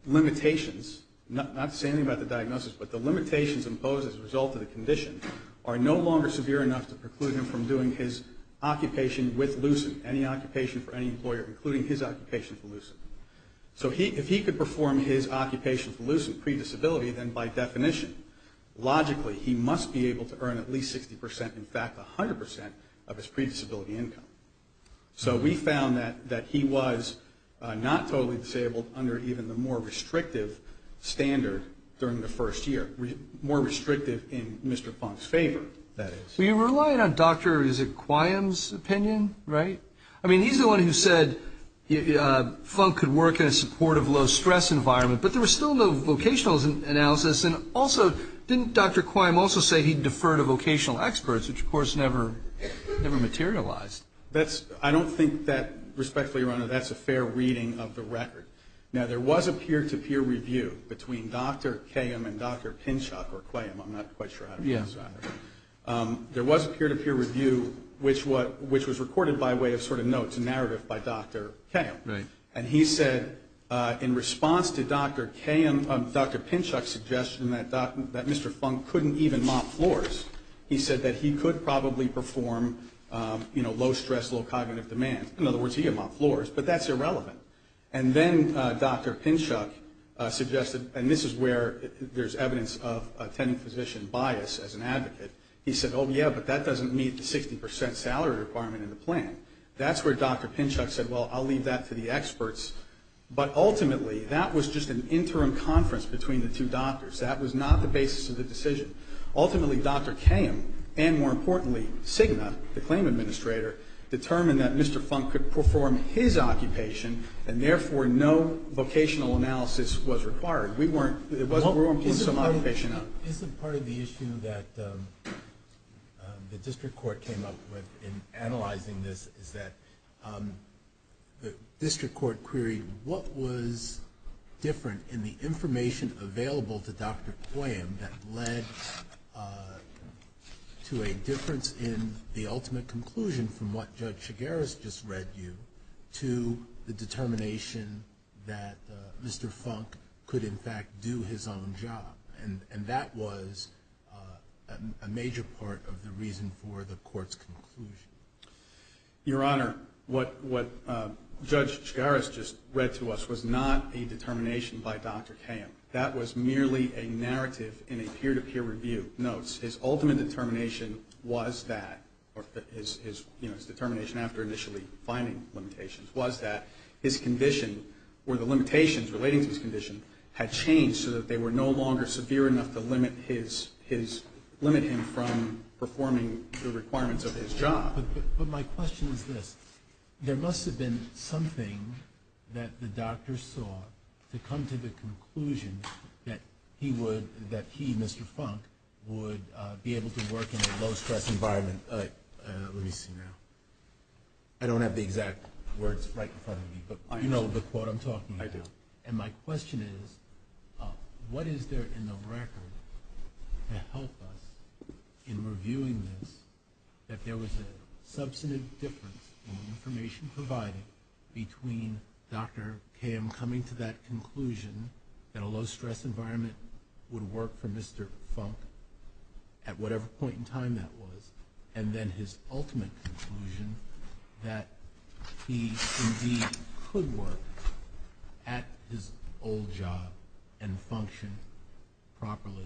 limitations, not to say anything about the diagnosis, but the limitations imposed as a result of the condition, are no longer severe enough to preclude him from doing his occupation with LUCIN, any occupation for any employer, including his occupation for LUCIN. So if he could perform his occupation for LUCIN pre-disability, then by definition, logically, he must be able to earn at least 60%, in fact, 100% of his pre-disability income. So we found that he was not totally disabled under even the more restrictive standard during the first year, more restrictive in Mr. Funk's favor, that is. So you're relying on Dr. Quiam's opinion, right? I mean, he's the one who said Funk could work in a supportive, low-stress environment, but there was still no vocational analysis, and also, didn't Dr. Quiam also say he'd defer to vocational experts, which, of course, never materialized? I don't think that, respectfully, Ronald, that's a fair reading of the record. Now, there was a peer-to-peer review between Dr. Quiam and Dr. Pinchot, or Quiam, I'm not quite sure how to pronounce that. There was a peer-to-peer review, which was recorded by way of sort of notes, a narrative by Dr. Quiam. And he said, in response to Dr. Pinchot's suggestion that Mr. Funk couldn't even mop floors, he said that he could probably perform low-stress, low cognitive demand. In other words, he could mop floors, but that's irrelevant. And then Dr. Pinchot suggested, and this is where there's evidence of a tenant-physician bias as an advocate. He said, oh, yeah, but that doesn't meet the 60% salary requirement in the plan. That's where Dr. Pinchot said, well, I'll leave that to the experts. But ultimately, that was just an interim conference between the two doctors. That was not the basis of the decision. Ultimately, Dr. Quiam, and more importantly, Cigna, the claim administrator, determined that Mr. Funk could perform his occupation, and therefore no vocational analysis was required. We weren't in some occupation. Part of the issue that the district court came up with in analyzing this is that the district court queried what was different in the information available to Dr. Quiam that led to a difference in the ultimate conclusion from what Judge Chigueras just read you to the determination that Mr. Funk could, in fact, do his own job. And that was a major part of the reason for the court's conclusion. Your Honor, what Judge Chigueras just read to us was not a determination by Dr. Quiam. That was merely a narrative in a peer-to-peer review notes. His ultimate determination was that, or his determination after initially finding limitations, was that his condition, or the limitations relating to his condition, had changed so that they were no longer severe enough to limit him from performing the requirements of his job. But my question is this. There must have been something that the doctor saw to come to the conclusion that he, Mr. Funk, would be able to work in a low-stress environment. Let me see now. I don't have the exact words right in front of me, but I know the quote I'm talking about. I do. And my question is, what is there in the record to help us in reviewing this, that there was a substantive difference in the information provided between Dr. Quiam coming to that conclusion that a low-stress environment would work for Mr. Funk at whatever point in time that was, and then his ultimate conclusion that he indeed could work at his old job and function properly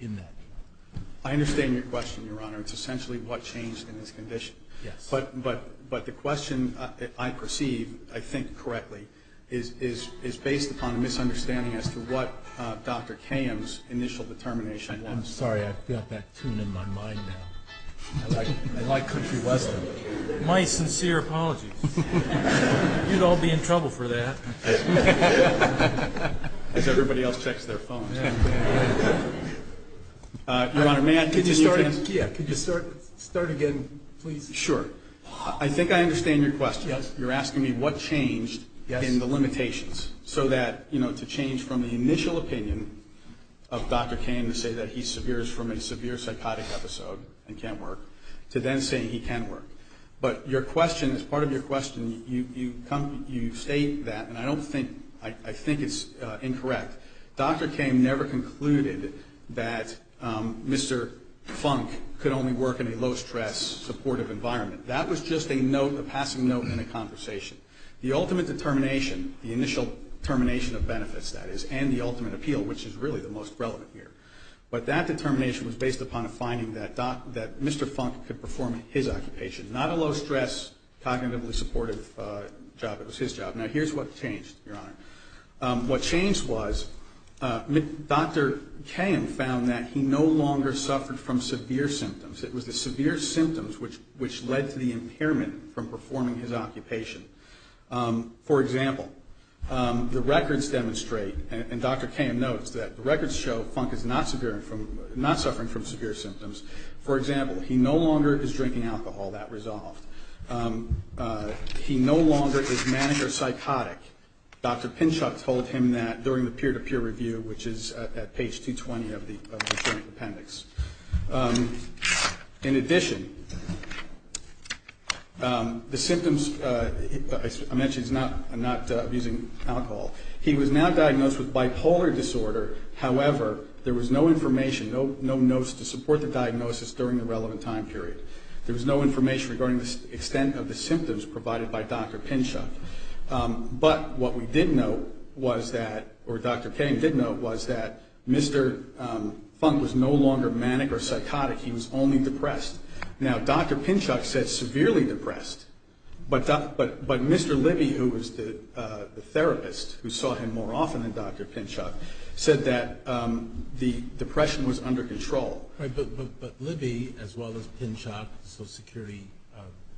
in that job? I understand your question, Your Honor, essentially what changed in his condition. But the question I perceive, I think correctly, is based upon a misunderstanding as to what Dr. Quiam's initial determination was. I'm sorry, I've got that tuned in my mind now. I like country weather. My sincere apologies. You'd all be in trouble for that. If everybody else checks their phones. Your Honor, may I continue? Yeah, could you start again, please? Sure. I think I understand your question. You're asking me what changed in the limitations so that, you know, to change from the initial opinion of Dr. Quiam to say that he's severe is from a severe psychotic episode and can't work, to then saying he can work. But your question, as part of your question, you state that, and I don't think, I think it's incorrect. Dr. Quiam never concluded that Mr. Funk could only work in a low-stress, supportive environment. That was just a note, a passing note in a conversation. The ultimate determination, the initial determination of benefits, that is, and the ultimate appeal, which is really the most relevant here, but that determination was based upon a finding that Mr. Funk could perform his occupation, not a low-stress, cognitively supportive job. It was his job. Now, here's what changed, Your Honor. What changed was Dr. Quiam found that he no longer suffered from severe symptoms. It was the severe symptoms which led to the impairment from performing his occupation. For example, the records demonstrate, and Dr. Quiam notes that the records show Funk is not suffering from severe symptoms. For example, he no longer is drinking alcohol. That resolved. He no longer is manic or psychotic. Dr. Pinchuk told him that during the peer-to-peer review, which is at page 220 of the appendix. In addition, the symptoms, I mentioned he's not abusing alcohol. He was now diagnosed with bipolar disorder. However, there was no information, no notes to support the diagnosis during the relevant time period. There was no information regarding the extent of the symptoms provided by Dr. Pinchuk. What Dr. Quiam did note was that Mr. Funk was no longer manic or psychotic. He was only depressed. Now, Dr. Pinchuk said severely depressed, but Mr. Libby, who was the therapist who saw him more often than Dr. Pinchuk, said that the depression was under control. But Libby, as well as Pinchuk, the Social Security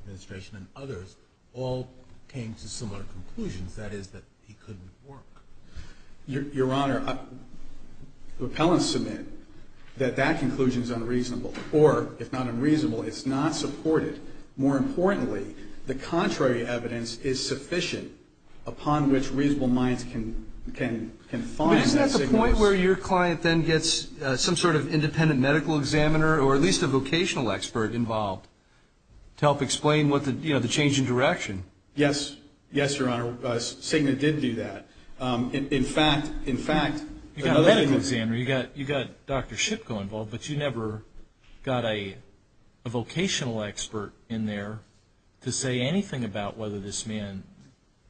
Administration, and others, all came to similar conclusions. That is that he couldn't work. Your Honor, the appellants submit that that conclusion is unreasonable. Or, if not unreasonable, it's not supportive. More importantly, the contrary evidence is sufficient upon which reasonable minds can find that suggestion. Is there a point where your client then gets some sort of independent medical examiner or at least a vocational expert involved to help explain the change in direction? Yes, Your Honor. Sigmund did do that. In fact, you've got a medical examiner, you've got Dr. Shipko involved, but you never got a vocational expert in there to say anything about whether this man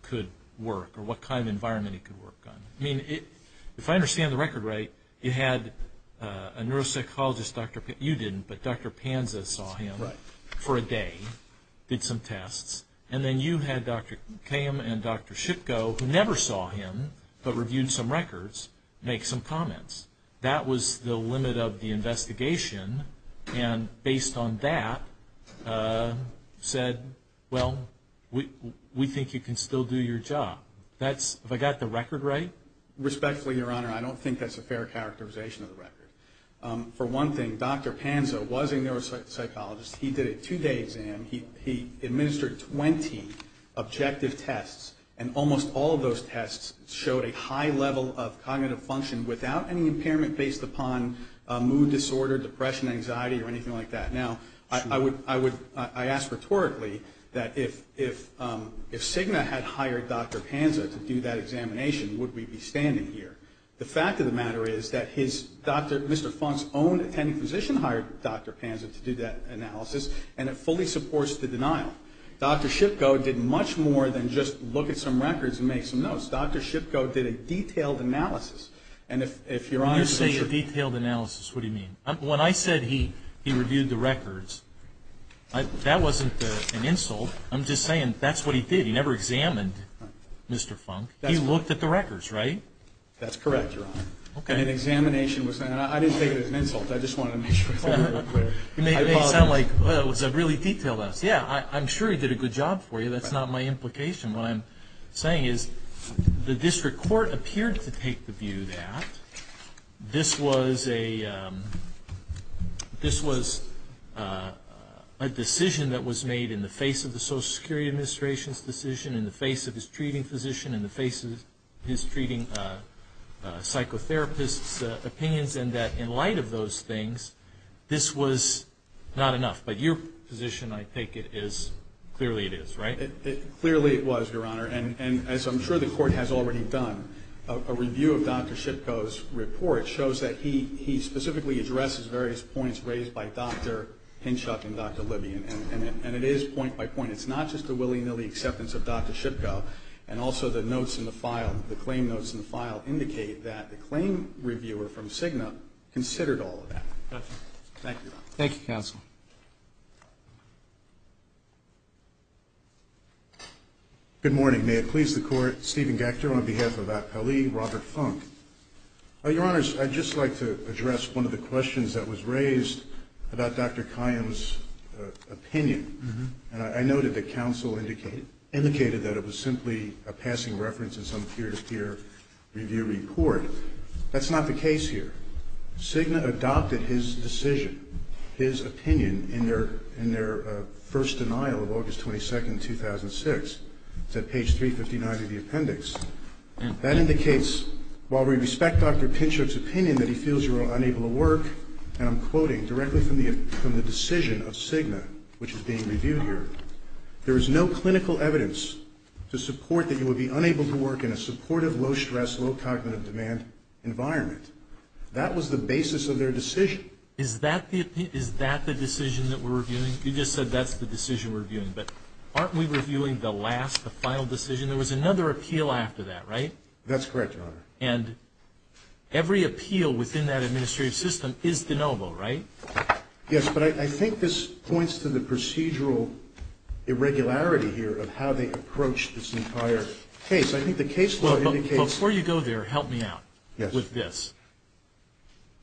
could work or what kind of environment he could work on. I mean, if I understand the record right, it had a neuropsychologist, you didn't, but Dr. Panza saw him for a day, did some tests. And then you had Dr. Kham and Dr. Shipko, who never saw him but reviewed some records, make some comments. That was the limit of the investigation. And based on that, said, well, we think you can still do your job. If I got the record right? Respectfully, Your Honor, I don't think that's a fair characterization of the record. For one thing, Dr. Panza was a neuropsychologist. He did a two-day exam. He administered 20 objective tests, and almost all of those tests showed a high level of cognitive function without any impairment based upon mood disorder, depression, anxiety, or anything like that. Now, I ask rhetorically that if Cigna had hired Dr. Panza to do that examination, would we be standing here? The fact of the matter is that his doctor, Mr. Funk's own attending physician hired Dr. Panza to do that analysis, and it fully supports the denial. Dr. Shipko did much more than just look at some records and make some notes. Dr. Shipko did a detailed analysis. And if Your Honor, You say a detailed analysis, what do you mean? When I said he reviewed the records, that wasn't an insult. I'm just saying that's what he did. He never examined Mr. Funk. He looked at the records, right? That's correct, Your Honor. Okay. The examination was done. I didn't take it as an insult. I just wanted to make sure. You may sound like, well, it was a really detailed analysis. Yeah, I'm sure he did a good job for you. That's not my implication. What I'm saying is the district court appeared to take the view that this was a decision that was made in the face of the Social Security Administration's decision, in the face of his treating physician, in the face of his treating psychotherapist's opinions, and that in light of those things, this was not enough. But your position, I take it, is clearly it is, right? Clearly it was, Your Honor, and as I'm sure the court has already done, a review of Dr. Shipko's report shows that he specifically addresses various points raised by Dr. Hinchhuff and Dr. Libby, and it is point by point. It's not just a willy-nilly acceptance of Dr. Shipko, and also the notes in the file, the claim notes in the file indicate that the claim reviewer from Cigna considered all of that. Thank you. Thank you, Counsel. Good morning. May it please the Court. Stephen Goechter on behalf of Attalee, Robert Funk. Your Honors, I'd just like to address one of the questions that was raised about Dr. Kion's opinion. I noted that counsel indicated that it was simply a passing reference in some peer-to-peer review report. That's not the case here. Cigna adopted his decision, his opinion, in their first denial of August 22, 2006. It's at page 359 of the appendix. That indicates, while we respect Dr. Hinchhuff's opinion that he feels you are unable to work, and I'm quoting directly from the decision of Cigna, which is being reviewed here, there is no clinical evidence to support that you would be unable to work in a supportive, low-stress, low-cognitive-demand environment. That was the basis of their decision. Is that the decision that we're reviewing? You just said that's the decision we're reviewing. But aren't we reviewing the last, the final decision? There was another appeal after that, right? That's correct, Your Honor. And every appeal within that administrative system is deniable, right? Yes, but I think this points to the procedural irregularity here of how they approach this entire case. I think the case law indicates— Before you go there, help me out with this.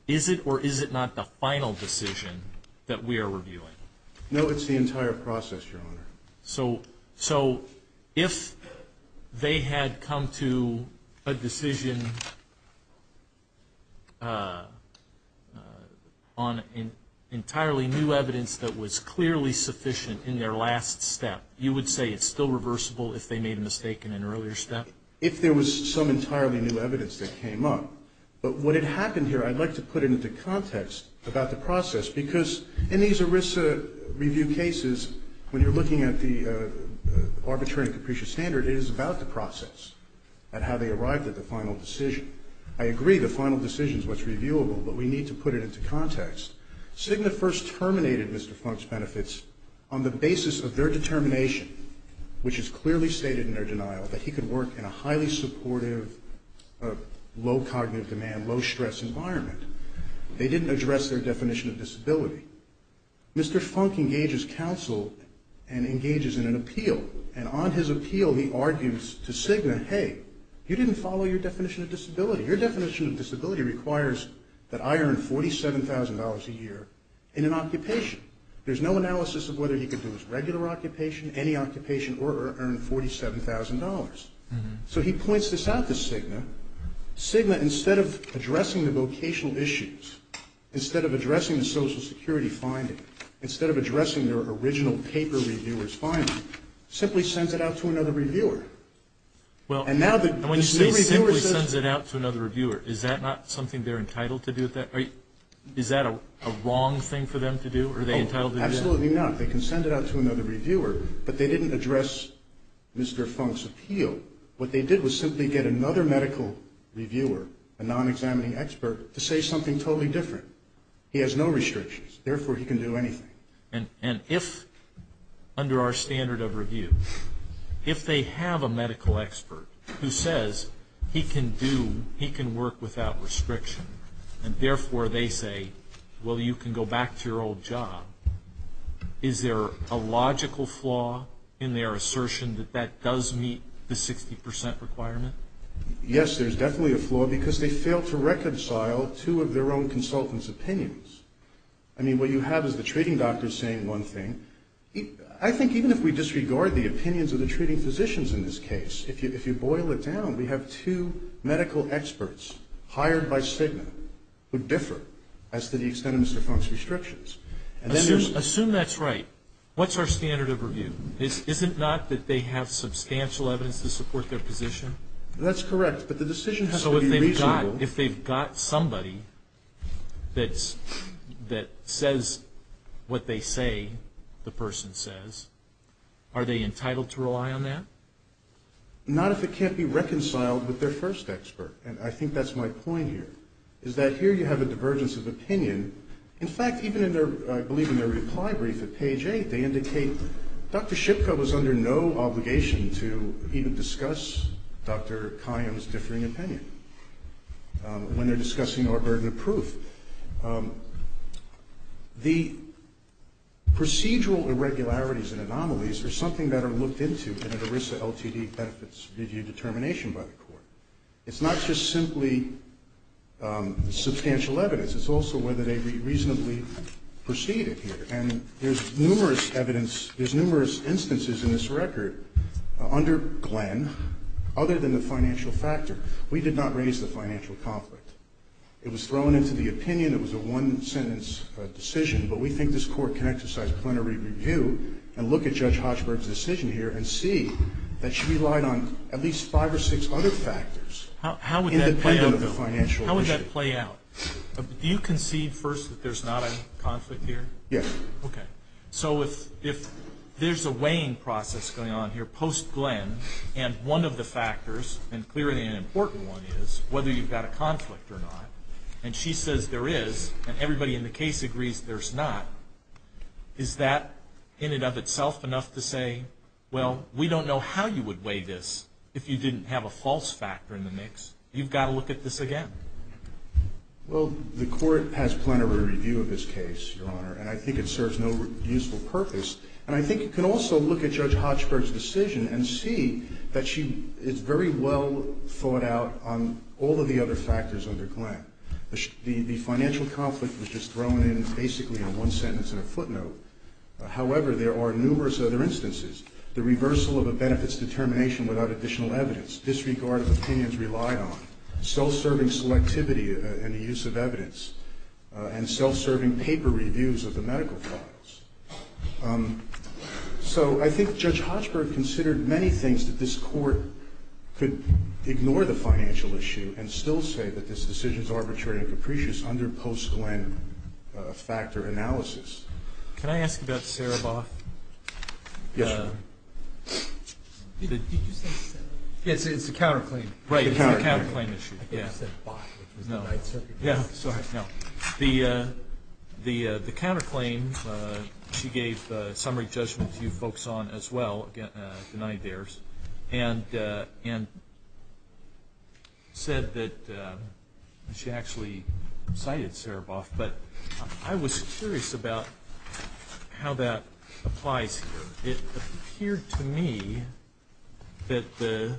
Is it or is it not the final decision that we are reviewing? No, it's the entire process, Your Honor. So if they had come to a decision on entirely new evidence that was clearly sufficient in their last step, you would say it's still reversible if they made a mistake in an earlier step? If there was some entirely new evidence that came up. But what had happened here, I'd like to put it into context about the process, because in these ERISA review cases, when you're looking at the arbitrary and capricious standard, it is about the process and how they arrived at the final decision. I agree the final decision is what's reviewable, but we need to put it into context. Cigna first terminated Mr. Funk's benefits on the basis of their determination, which is clearly stated in their denial that he could work in a highly supportive, low cognitive demand, low stress environment. They didn't address their definition of disability. Mr. Funk engages counsel and engages in an appeal. And on his appeal, he argues to Cigna, hey, you didn't follow your definition of disability. Your definition of disability requires that I earn $47,000 a year in an occupation. There's no analysis of whether he could do his regular occupation, any occupation, or earn $47,000. So he points this out to Cigna. Cigna, instead of addressing the vocational issues, instead of addressing the Social Security finding, instead of addressing their original paper reviewer's finding, simply sends it out to another reviewer. And now the new reviewer says... Well, when Cigna sends it out to another reviewer, is that not something they're entitled to do at that rate? Is that a wrong thing for them to do, or are they entitled to do that? Absolutely not. They can send it out to another reviewer, but they didn't address Mr. Funk's appeal. What they did was simply get another medical reviewer, a non-examining expert, to say something totally different. He has no restrictions. Therefore, he can do anything. And if, under our standard of review, if they have a medical expert who says he can do, he can work without restrictions, and therefore they say, well, you can go back to your old job, is there a logical flaw in their assertion that that does meet the 60% requirement? Yes, there's definitely a flaw, because they failed to reconcile two of their own consultants' opinions. I mean, what you have is the treating doctor saying one thing. I think even if we disregard the opinions of the treating physicians in this case, if you boil it down, we have two medical experts hired by CIGNA who differ as to the extent of Mr. Funk's restrictions. Assume that's right. What's our standard of review? Is it not that they have substantial evidence to support their position? That's correct, but the decision has to be reasonable. So if they've got somebody that says what they say the person says, are they entitled to rely on that? Not if it can't be reconciled with their first expert, and I think that's my point here, is that here you have a divergence of opinion. In fact, even in their, I believe in their reply brief at page 8, they indicate Dr. Shipko is under no obligation to even discuss Dr. Kayyem's differing opinion when they're discussing our burden of proof. The procedural irregularities and anomalies are something that are looked into in the RISA LTD benefits review determination by the court. It's not just simply substantial evidence. It's also whether they reasonably proceeded here, and there's numerous instances in this record under Glenn, other than the financial factor, we did not raise the financial conflict. It was thrown into the opinion. It was a one-sentence decision, but we think this court can exercise plenary review and look at Judge Hochberg's decision here and see that she relied on at least five or six other factors. How would that play out? Do you concede first that there's not a conflict here? Yes. Okay. So if there's a weighing process going on here post-Glenn, and one of the factors, and clearly an important one is whether you've got a conflict or not, and she says there is, and everybody in the case agrees there's not, is that in and of itself enough to say, well, we don't know how you would weigh this if you didn't have a false factor in the mix? You've got to look at this again. Well, the court has plenary review of this case, Your Honor, and I think it serves no useful purpose. And I think you can also look at Judge Hochberg's decision and see that she is very well thought out on all of the other factors under Glenn. The financial conflict was just thrown in basically in one sentence in a footnote. However, there are numerous other instances. The reversal of a benefits determination without additional evidence, disregarded opinions relied on, self-serving selectivity in the use of evidence, and self-serving paper reviews of the medical problems. So I think Judge Hochberg considered many things that this court could ignore the financial issue and still say that this decision is arbitrary and capricious under post-Glenn factor analysis. Can I ask about Sarah Bach? Yes, Your Honor. It's a counter-claim. Right, it's a counter-claim issue. Yeah, sorry. The counter-claim she gave summary judgment to folks on as well, denied theirs, and said that she actually cited Sarah Bach. But I was curious about how that applies here. It appeared to me that the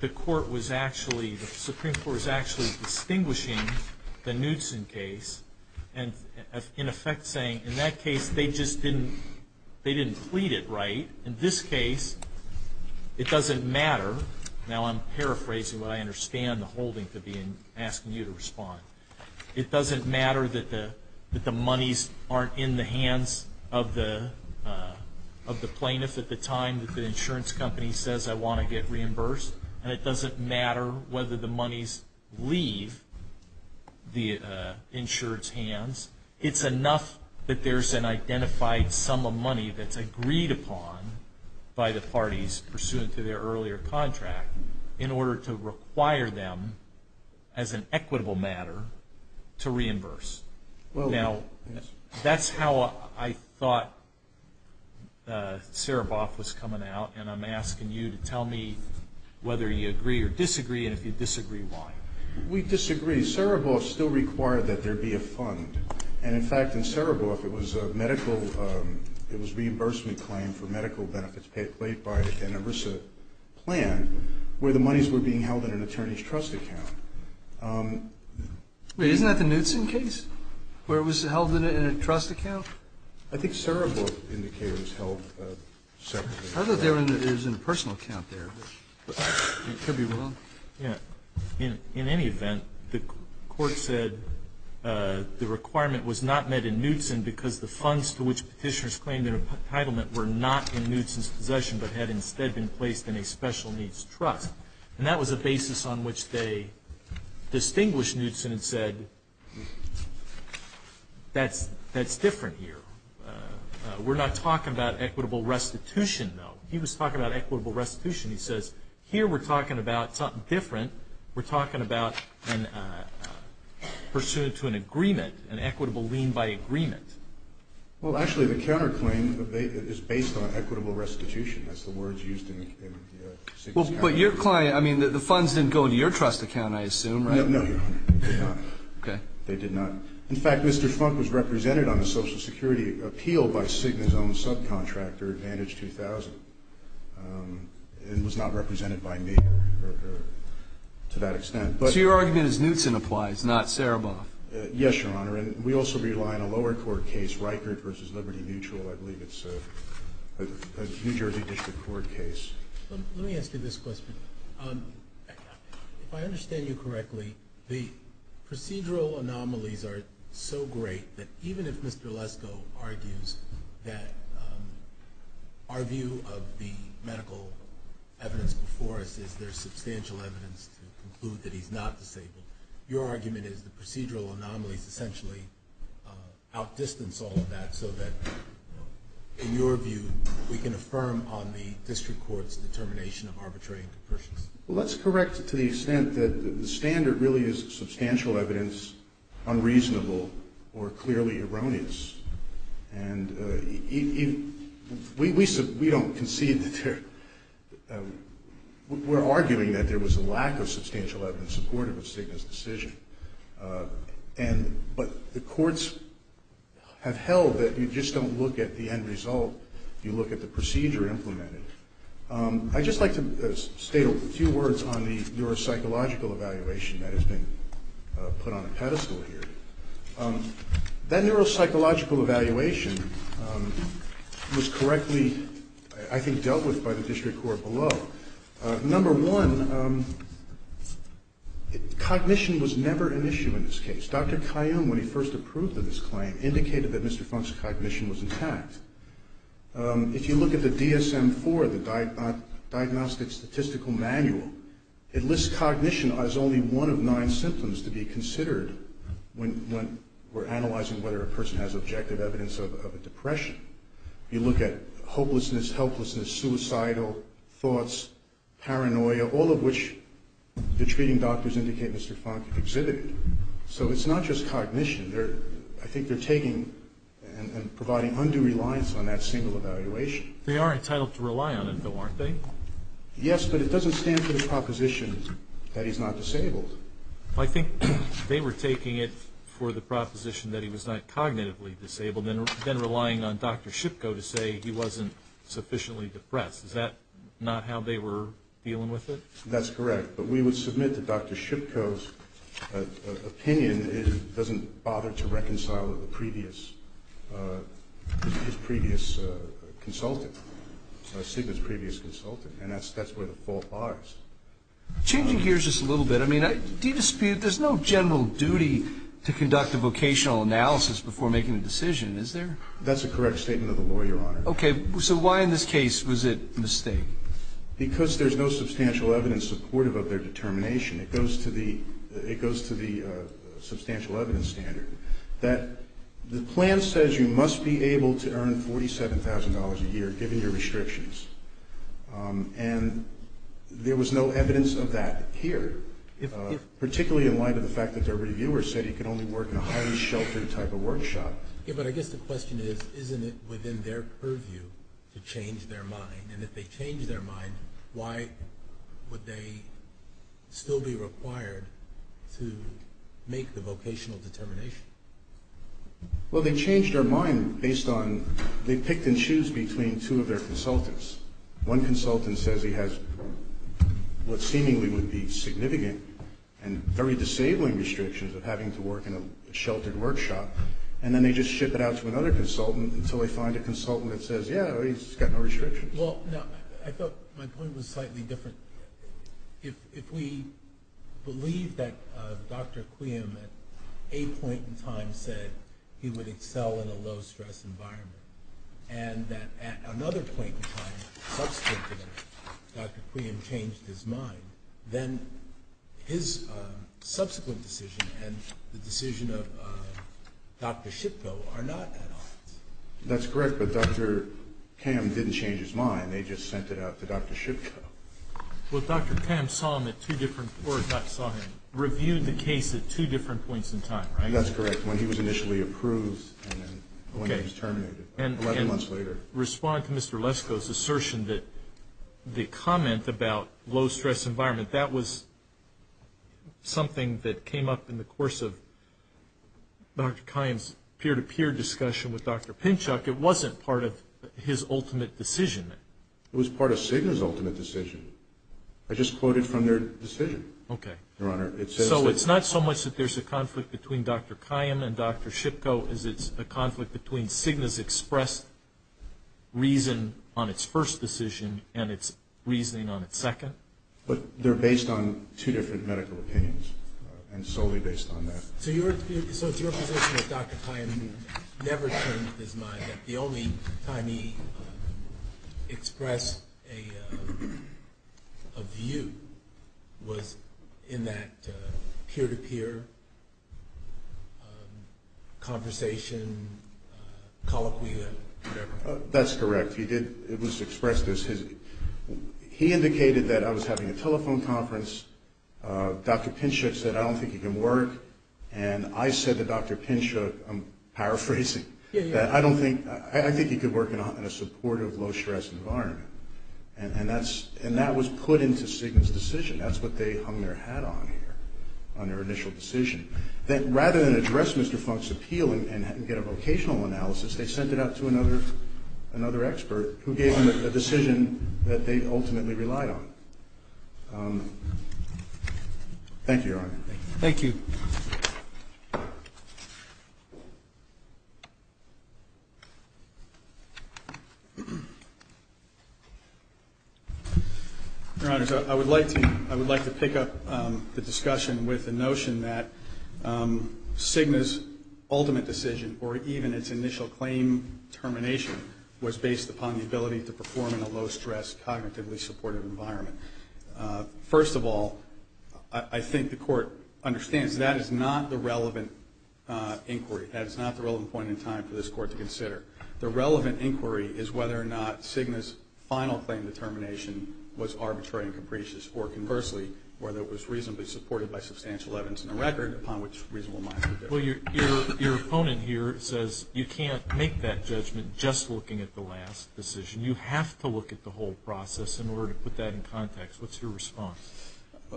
Supreme Court was actually distinguishing the Knudsen case, and in effect saying, in that case, they just didn't plead it right. In this case, it doesn't matter. Now I'm paraphrasing what I understand the holdings of asking you to respond. It doesn't matter that the monies aren't in the hands of the plaintiff at the time that the insurance company says, I want to get reimbursed. And it doesn't matter whether the monies leave the insurance hands. It's enough that there's an identified sum of money that's agreed upon by the parties pursuant to their earlier contract in order to require them, as an equitable matter, to reimburse. Now, that's how I thought Sarah Bach was coming out, and I'm asking you to tell me whether you agree or disagree, and if you disagree, why. We disagree. Sarah Bach still required that there be a fund. And, in fact, in Sarah Bach, it was a reimbursement claim for medical benefits paid by the Tenebrosa plan, where the monies were being held in an attorney's trust account. Isn't that the Knudsen case, where it was held in a trust account? I think Sarah Bach indicated it was held separately. I thought there was an impersonal account there, which could be wrong. In any event, the court said the requirement was not met in Knudsen because the funds to which petitioners claimed their entitlement were not in Knudsen's possession but had instead been placed in a special needs trust. And that was the basis on which they distinguished Knudsen and said, that's different here. We're not talking about equitable restitution, though. He was talking about equitable restitution. He says, here we're talking about something different. We're talking about pursuant to an agreement, an equitable lien by agreement. Well, actually, the counterclaim is based on equitable restitution. That's the words used in Signa's case. But your client, I mean, the funds didn't go into your trust account, I assume, right? No, no. They did not. They did not. In fact, Mr. Funk was represented on the Social Security appeal by Signa's own subcontractor, Advantage 2000. And was not represented by me to that extent. So your argument is Knudsen applies, not Saraboff. Yes, Your Honor. And we also rely on a lower court case, Reichert v. Liberty Mutual. I believe it's a New Jersey District Court case. Let me ask you this question. If I understand you correctly, the procedural anomalies are so great that even if Mr. Lesko argues that our view of the medical evidence before us is there's substantial evidence to conclude that he's not disabled, your argument is the procedural anomaly potentially outdistance all of that so that, in your view, we can affirm on the district court's determination of arbitrary and subversive. Let's correct it to the extent that the standard really is substantial evidence, unreasonable, or clearly erroneous. And we don't concede to, we're arguing that there was a lack of substantial evidence supportive of Signa's decision. But the courts have held that you just don't look at the end result, you look at the procedure implemented. I'd just like to state a few words on the neuropsychological evaluation that has been put on a pedestal here. That neuropsychological evaluation was correctly, I think, dealt with by the district court below. Number one, cognition was never an issue in this case. Dr. Kayyum, when he first approved of this claim, indicated that Mr. Plunk's cognition was intact. If you look at the DSM-IV, the Diagnostic Statistical Manual, it lists cognition as only one of nine symptoms to be considered when we're analyzing whether a person has objective evidence of a depression. You look at hopelessness, helplessness, suicidal thoughts, paranoia, all of which the treating doctors indicate Mr. Plunk exhibited. So it's not just cognition. I think they're taking and providing undue reliance on that single evaluation. They are entitled to rely on it, though, aren't they? Yes, but it doesn't stand for the proposition that he's not disabled. I think they were taking it for the proposition that he was not cognitively disabled and then relying on Dr. Shipko to say he wasn't sufficiently depressed. Is that not how they were dealing with it? That's correct. But we would submit that Dr. Shipko's opinion doesn't bother to reconcile with his previous consultant, SIGMA's previous consultant, and that's where the fault lies. Changing gears just a little bit, I mean, there's no general duty to conduct a vocational analysis before making a decision, is there? That's a correct statement of the lawyer, Your Honor. Okay, so why in this case was it a mistake? Because there's no substantial evidence supportive of their determination. It goes to the substantial evidence standard. The plan says you must be able to earn $47,000 a year given your restrictions, and there was no evidence of that here, particularly in light of the fact that the reviewer said he could only work in a highly sheltered type of workshop. Okay, but I guess the question is, isn't it within their purview to change their mind? And if they changed their mind, why would they still be required to make the vocational determination? Well, they changed their mind based on they picked and choose between two of their consultants. One consultant says he has what seemingly would be significant and very disabling restrictions of having to work in a sheltered workshop, and then they just ship it out to another consultant until they find a consultant that says, yeah, he's got no restrictions. Well, no, I thought my point was slightly different. If we believe that Dr. Cleum at a point in time said he would excel in a low-stress environment and that at another point in time Dr. Cleum changed his mind, then his subsequent decision and the decision of Dr. Shipko are not at odds. That's correct, but Dr. Cleum didn't change his mind. They just sent it out to Dr. Shipko. Well, Dr. Cleum saw him at two different points in time. Reviewed the case at two different points in time, right? That's correct, when he was initially approved and then when he was terminated 11 months later. I wanted to respond to Mr. Lesko's assertion that the comment about low-stress environment, that was something that came up in the course of Dr. Cleum's peer-to-peer discussion with Dr. Pinchuk. It wasn't part of his ultimate decision. It was part of Cigna's ultimate decision. So it's not so much that there's a conflict between Dr. Cleum and Dr. Shipko as it's a conflict between Cigna's expressed reason on its first decision and its reasoning on its second. But they're based on two different medical opinions and solely based on that. So your position with Dr. Cleum never changed his mind. The only time he expressed a view was in that peer-to-peer conversation, colloquia, whatever. That's correct. He did, it was expressed as his, he indicated that I was having a telephone conference. Dr. Pinchuk said, I don't think you can work. And I said to Dr. Pinchuk, I'm paraphrasing, that I don't think, I think you can work in a supportive low-stress environment. And that was put into Cigna's decision. That's what they hung their hat on here on their initial decision. That rather than address Mr. Funk's appeal and get a vocational analysis, they sent it out to another expert who gave them a decision that they ultimately relied on. Thank you, Your Honor. Thank you. Your Honor, I would like to pick up the discussion with the notion that Cigna's ultimate decision, or even its initial claim termination, was based upon the ability to perform in a low-stress, cognitively supportive environment. First of all, I think the Court understands that is not the relevant inquiry. That is not the relevant point in time for this Court to consider. The relevant inquiry is whether or not Cigna's final claim determination was arbitrary and capricious, or conversely, whether it was reasonably supported by substantial evidence in the record, Your opponent here says you can't make that judgment just looking at the last decision. You have to look at the whole process in order to put that in context. What's your response?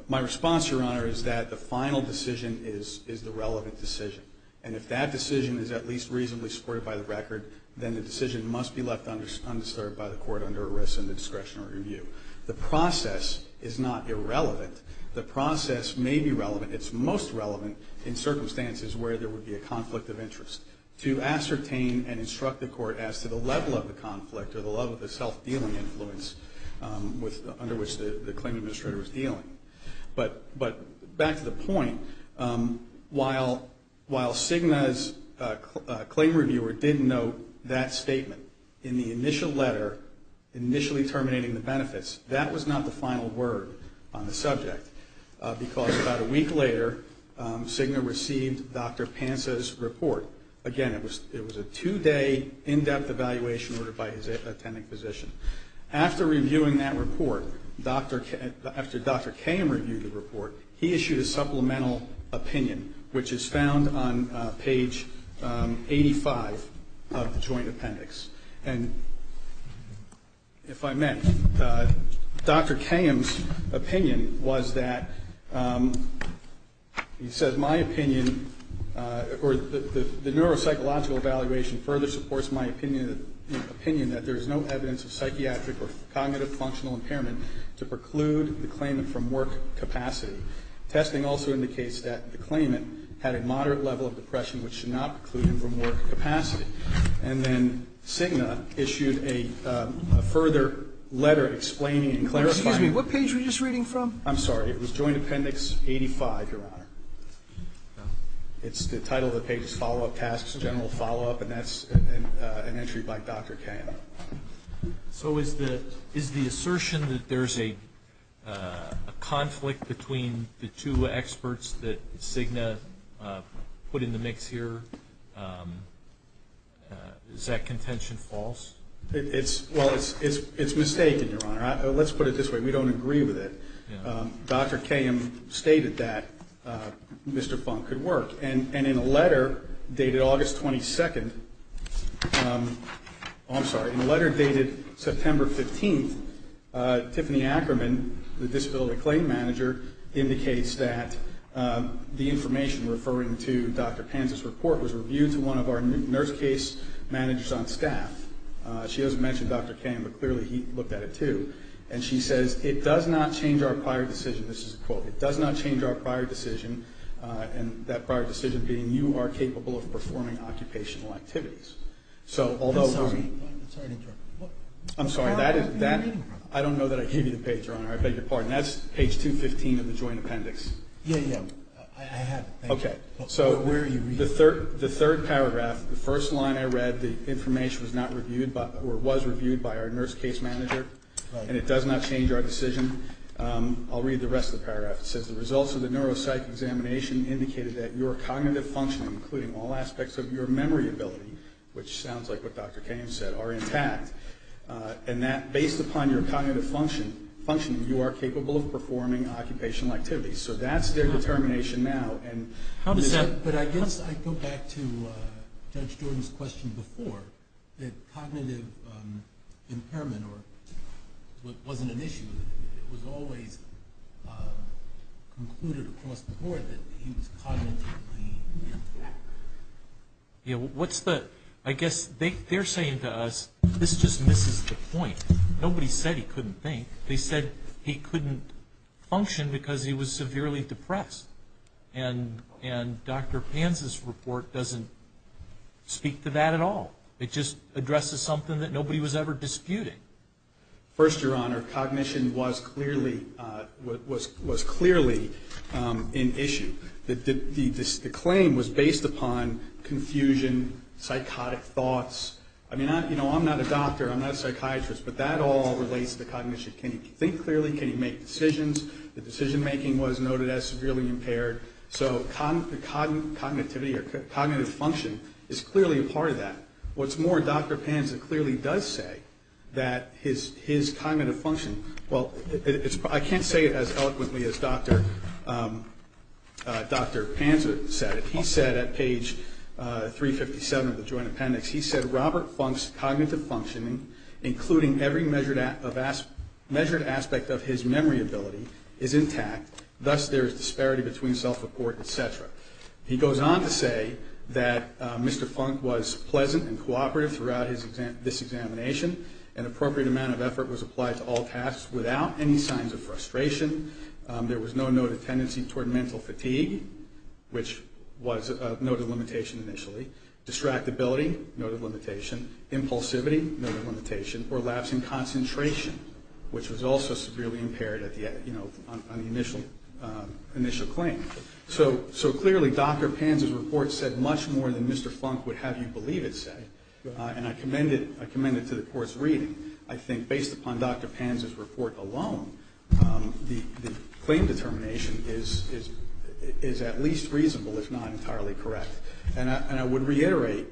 My response, Your Honor, is that the final decision is the relevant decision. And if that decision is at least reasonably supported by the record, then the decision must be left undisturbed by the Court under arrest and the discretionary review. The process is not irrelevant. The process may be relevant. It's most relevant in circumstances where there would be a conflict of interest to ascertain and instruct the Court as to the level of the conflict or the level of the self-dealing influence under which the claim administrator was dealing. But back to the point, while Cigna's claim reviewer didn't note that statement in the initial letter, initially terminating the benefits, that was not the final word on the subject because about a week later, Cigna received Dr. Panza's report. Again, it was a two-day, in-depth evaluation by his attending physician. After reviewing that report, after Dr. Kayham reviewed the report, he issued a supplemental opinion, which is found on page 85 of the joint appendix. And if I may, Dr. Kayham's opinion was that, he says, my opinion, or the neuropsychological evaluation further supports my opinion that there is no evidence of psychiatric or cognitive functional impairment to preclude the claimant from work capacity. Testing also indicates that the claimant had a moderate level of depression which should not preclude him from work capacity. And then Cigna issued a further letter explaining and clarifying. Excuse me, what page were you just reading from? I'm sorry. It was joint appendix 85, Your Honor. It's the title of the case, follow-up task, general follow-up, and that's an entry by Dr. Kayham. So is the assertion that there's a conflict between the two experts that Cigna put in the mix here, is that contention false? Well, it's mistaken, Your Honor. Let's put it this way. We don't agree with it. Dr. Kayham stated that Mr. Funk could work. And in a letter dated August 22nd, I'm sorry, in a letter dated September 15th, Tiffany Ackerman, the disability claim manager, indicates that the information referring to Dr. Kayham's report was reviewed through one of our nurse case managers on staff. She doesn't mention Dr. Kayham, but clearly he looked at it too. And she says, it does not change our prior decision, this is the quote, it does not change our prior decision, and that prior decision being, you are capable of performing occupational activities. I'm sorry, I don't know that I gave you the page, Your Honor. I beg your pardon. That's page 215 of the joint appendix. I have it. Okay. So the third paragraph, the first line I read, the information was not reviewed or was reviewed by our nurse case manager, and it does not change our decision. I'll read the rest of the paragraph. It says the results of the neuropsych examination indicated that your cognitive function, including all aspects of your memory ability, which sounds like what Dr. Kayham said, are in fact, and that based upon your cognitive function, you are capable of performing occupational activities. So that's their determination now. But I guess I go back to Judge Gordon's question before, that cognitive impairment wasn't an issue. It was always concluded across the board that he was cognitively impacted. I guess they're saying to us, this just misses the point. Nobody said he couldn't think. They said he couldn't function because he was severely depressed, and Dr. Panza's report doesn't speak to that at all. It just addresses something that nobody was ever disputing. First, Your Honor, cognition was clearly an issue. The claim was based upon confusion, psychotic thoughts. I mean, I'm not a doctor. I'm not a psychiatrist, but that all relates to cognition. Can you think clearly? Can you make decisions? The decision-making was noted as severely impaired. So cognitive function is clearly a part of that. What's more, Dr. Panza clearly does say that his cognitive function, well, I can't say it as eloquently as Dr. Panza said it. He said at page 357 of the Joint Appendix, he said, Robert Funk's cognitive function, including every measured aspect of his memory ability, is intact. Thus, there is disparity between self-report, et cetera. He goes on to say that Mr. Funk was pleasant and cooperative throughout this examination. An appropriate amount of effort was applied to all tasks without any signs of frustration. There was no noted tendency toward mental fatigue, which was a noted limitation initially. Distractibility, noted limitation. Impulsivity, noted limitation. Or lapse in concentration, which was also severely impaired on the initial claim. So clearly, Dr. Panza's report said much more than Mr. Funk would have you believe it said. And I commend it to the Court's reading. I think based upon Dr. Panza's report alone, the claim determination is at least reasonable. It's not entirely correct. And I would reiterate,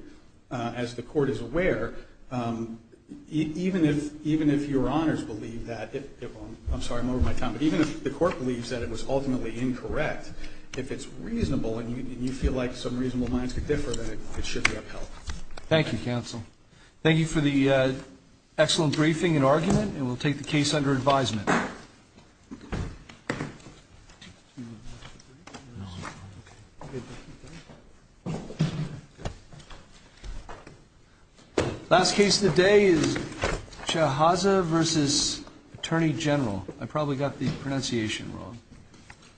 as the Court is aware, even if your honors believe that, I'm sorry, I'm over my time, but even if the Court believes that it was ultimately incorrect, if it's reasonable and you feel like some reasonable minds could differ, then it should be upheld. Thank you, counsel. Thank you for the excellent briefing and argument, and we'll take the case under advisement. Last case of the day is Chahaza v. Attorney General. I probably got the pronunciation wrong. Thank you.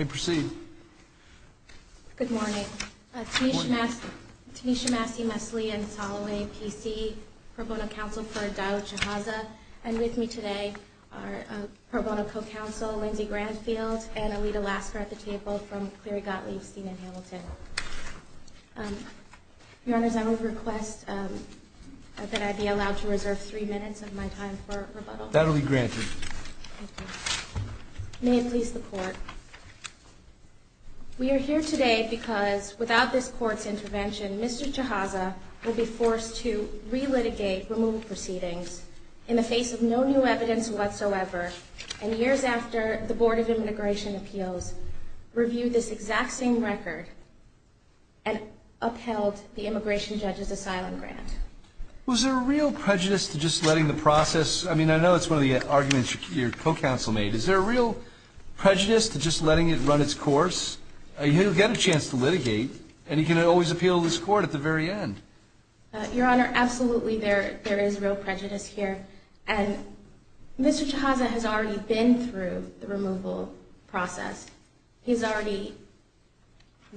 You may proceed. Good morning. Good morning. Tanisha Maskey-Mesley in Soloway, T.C. Pro Bono Counsel for Advisor Chahaza. And with me today are Pro Bono Co-Counsel Lindsay Grantfield and Alita Lasker at the table from Cleary Gottlieb's team in Hamilton. Your Honor, that was a request that I be allowed to redress three minutes of my time for rebuttal. That will be granted. Thank you. May it please the Court. We are here today because without this Court's intervention, Mr. Chahaza will be forced to re-litigate removed proceedings in the face of no new evidence whatsoever and years after the Board of Immigration Appeals reviewed this exact same record and upheld the immigration judge's asylum grant. Was there a real prejudice to just letting the process – I mean, I know it's one of the arguments your co-counsel made. Is there a real prejudice to just letting it run its course? You get a chance to litigate and you can always appeal to this Court at the very end. Your Honor, absolutely there is real prejudice here. And Mr. Chahaza has already been through the removal process. He's already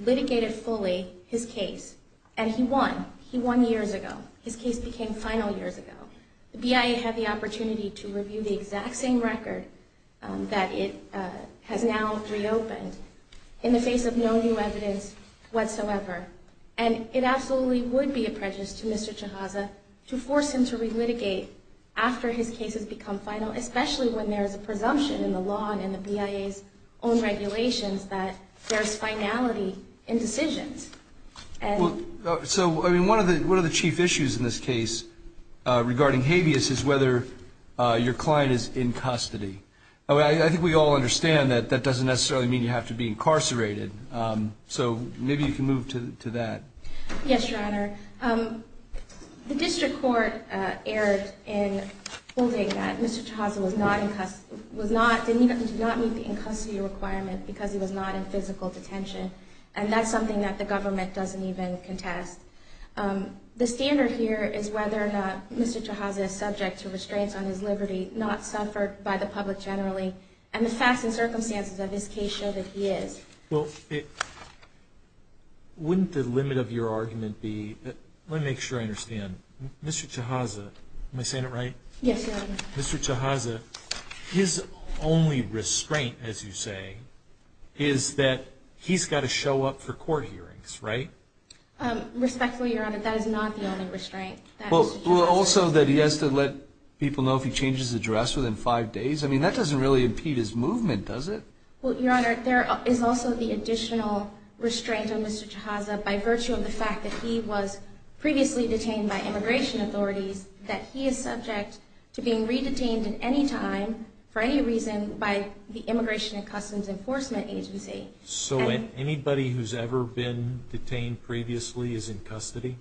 litigated fully his case. And he won. He won years ago. His case became final years ago. The BIA had the opportunity to review the exact same record that it has now reopened in the face of no new evidence whatsoever. And it absolutely would be a prejudice to Mr. Chahaza to force him to re-litigate after his case has become final, especially when there is a presumption in the law and in the BIA's own regulations that there is finality in decisions. So, I mean, one of the chief issues in this case regarding habeas is whether your client is in custody. I think we all understand that that doesn't necessarily mean you have to be incarcerated. So, maybe you can move to that. Yes, Your Honor. The District Court erred in holding that Mr. Chahaza was not in – did not meet the in-custody requirement because he was not in physical detention. And that's something that the government doesn't even contest. The standard here is whether Mr. Chahaza is subject to restraints on his liberty, not suffered by the public generally, and the facts and circumstances of his case show that he is. Well, wouldn't the limit of your argument be – let me make sure I understand. Mr. Chahaza – am I saying it right? Yes, Your Honor. Mr. Chahaza, his only restraint, as you say, is that he's got to show up for court hearings, right? Respectfully, Your Honor, that is not the only restraint. Well, also that he has to let people know if he changes his address within five days. I mean, that doesn't really impede his movement, does it? Well, Your Honor, there is also the additional restraint on Mr. Chahaza by virtue of the fact that he was previously detained by immigration authorities, that he is subject to being re-detained at any time, for any reason, by the Immigration and Customs Enforcement Agency. So anybody who's ever been detained previously is in custody?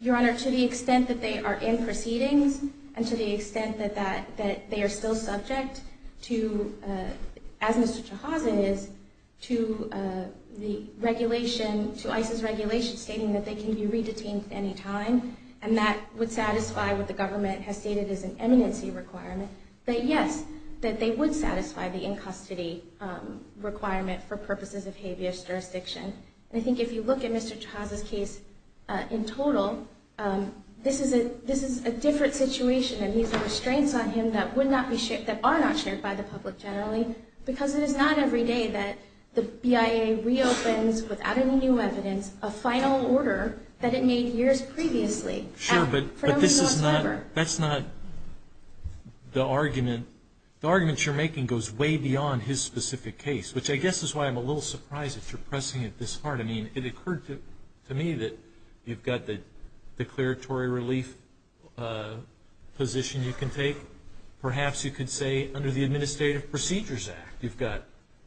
Your Honor, to the extent that they are in proceedings, and to the extent that they are still subject to, as Mr. Chahaza is, to the regulation, to ICE's regulation stating that they can be re-detained at any time, and that would satisfy what the government has stated as an enmity requirement, that yes, that they would satisfy the in-custody requirement for purposes of habeas jurisdiction. I think if you look at Mr. Chahaza's case in total, this is a different situation, and these are restraints on him that are not shared by the public generally, because it is not every day that the BIA reopens, without any new evidence, a final order that it made years previously. Sure, but that's not the argument. The argument you're making goes way beyond his specific case, which I guess is why I'm a little surprised that you're pressing it this hard. I mean, it occurred to me that you've got the declaratory relief position you can take. Perhaps you could say under the Administrative Procedures Act, you've got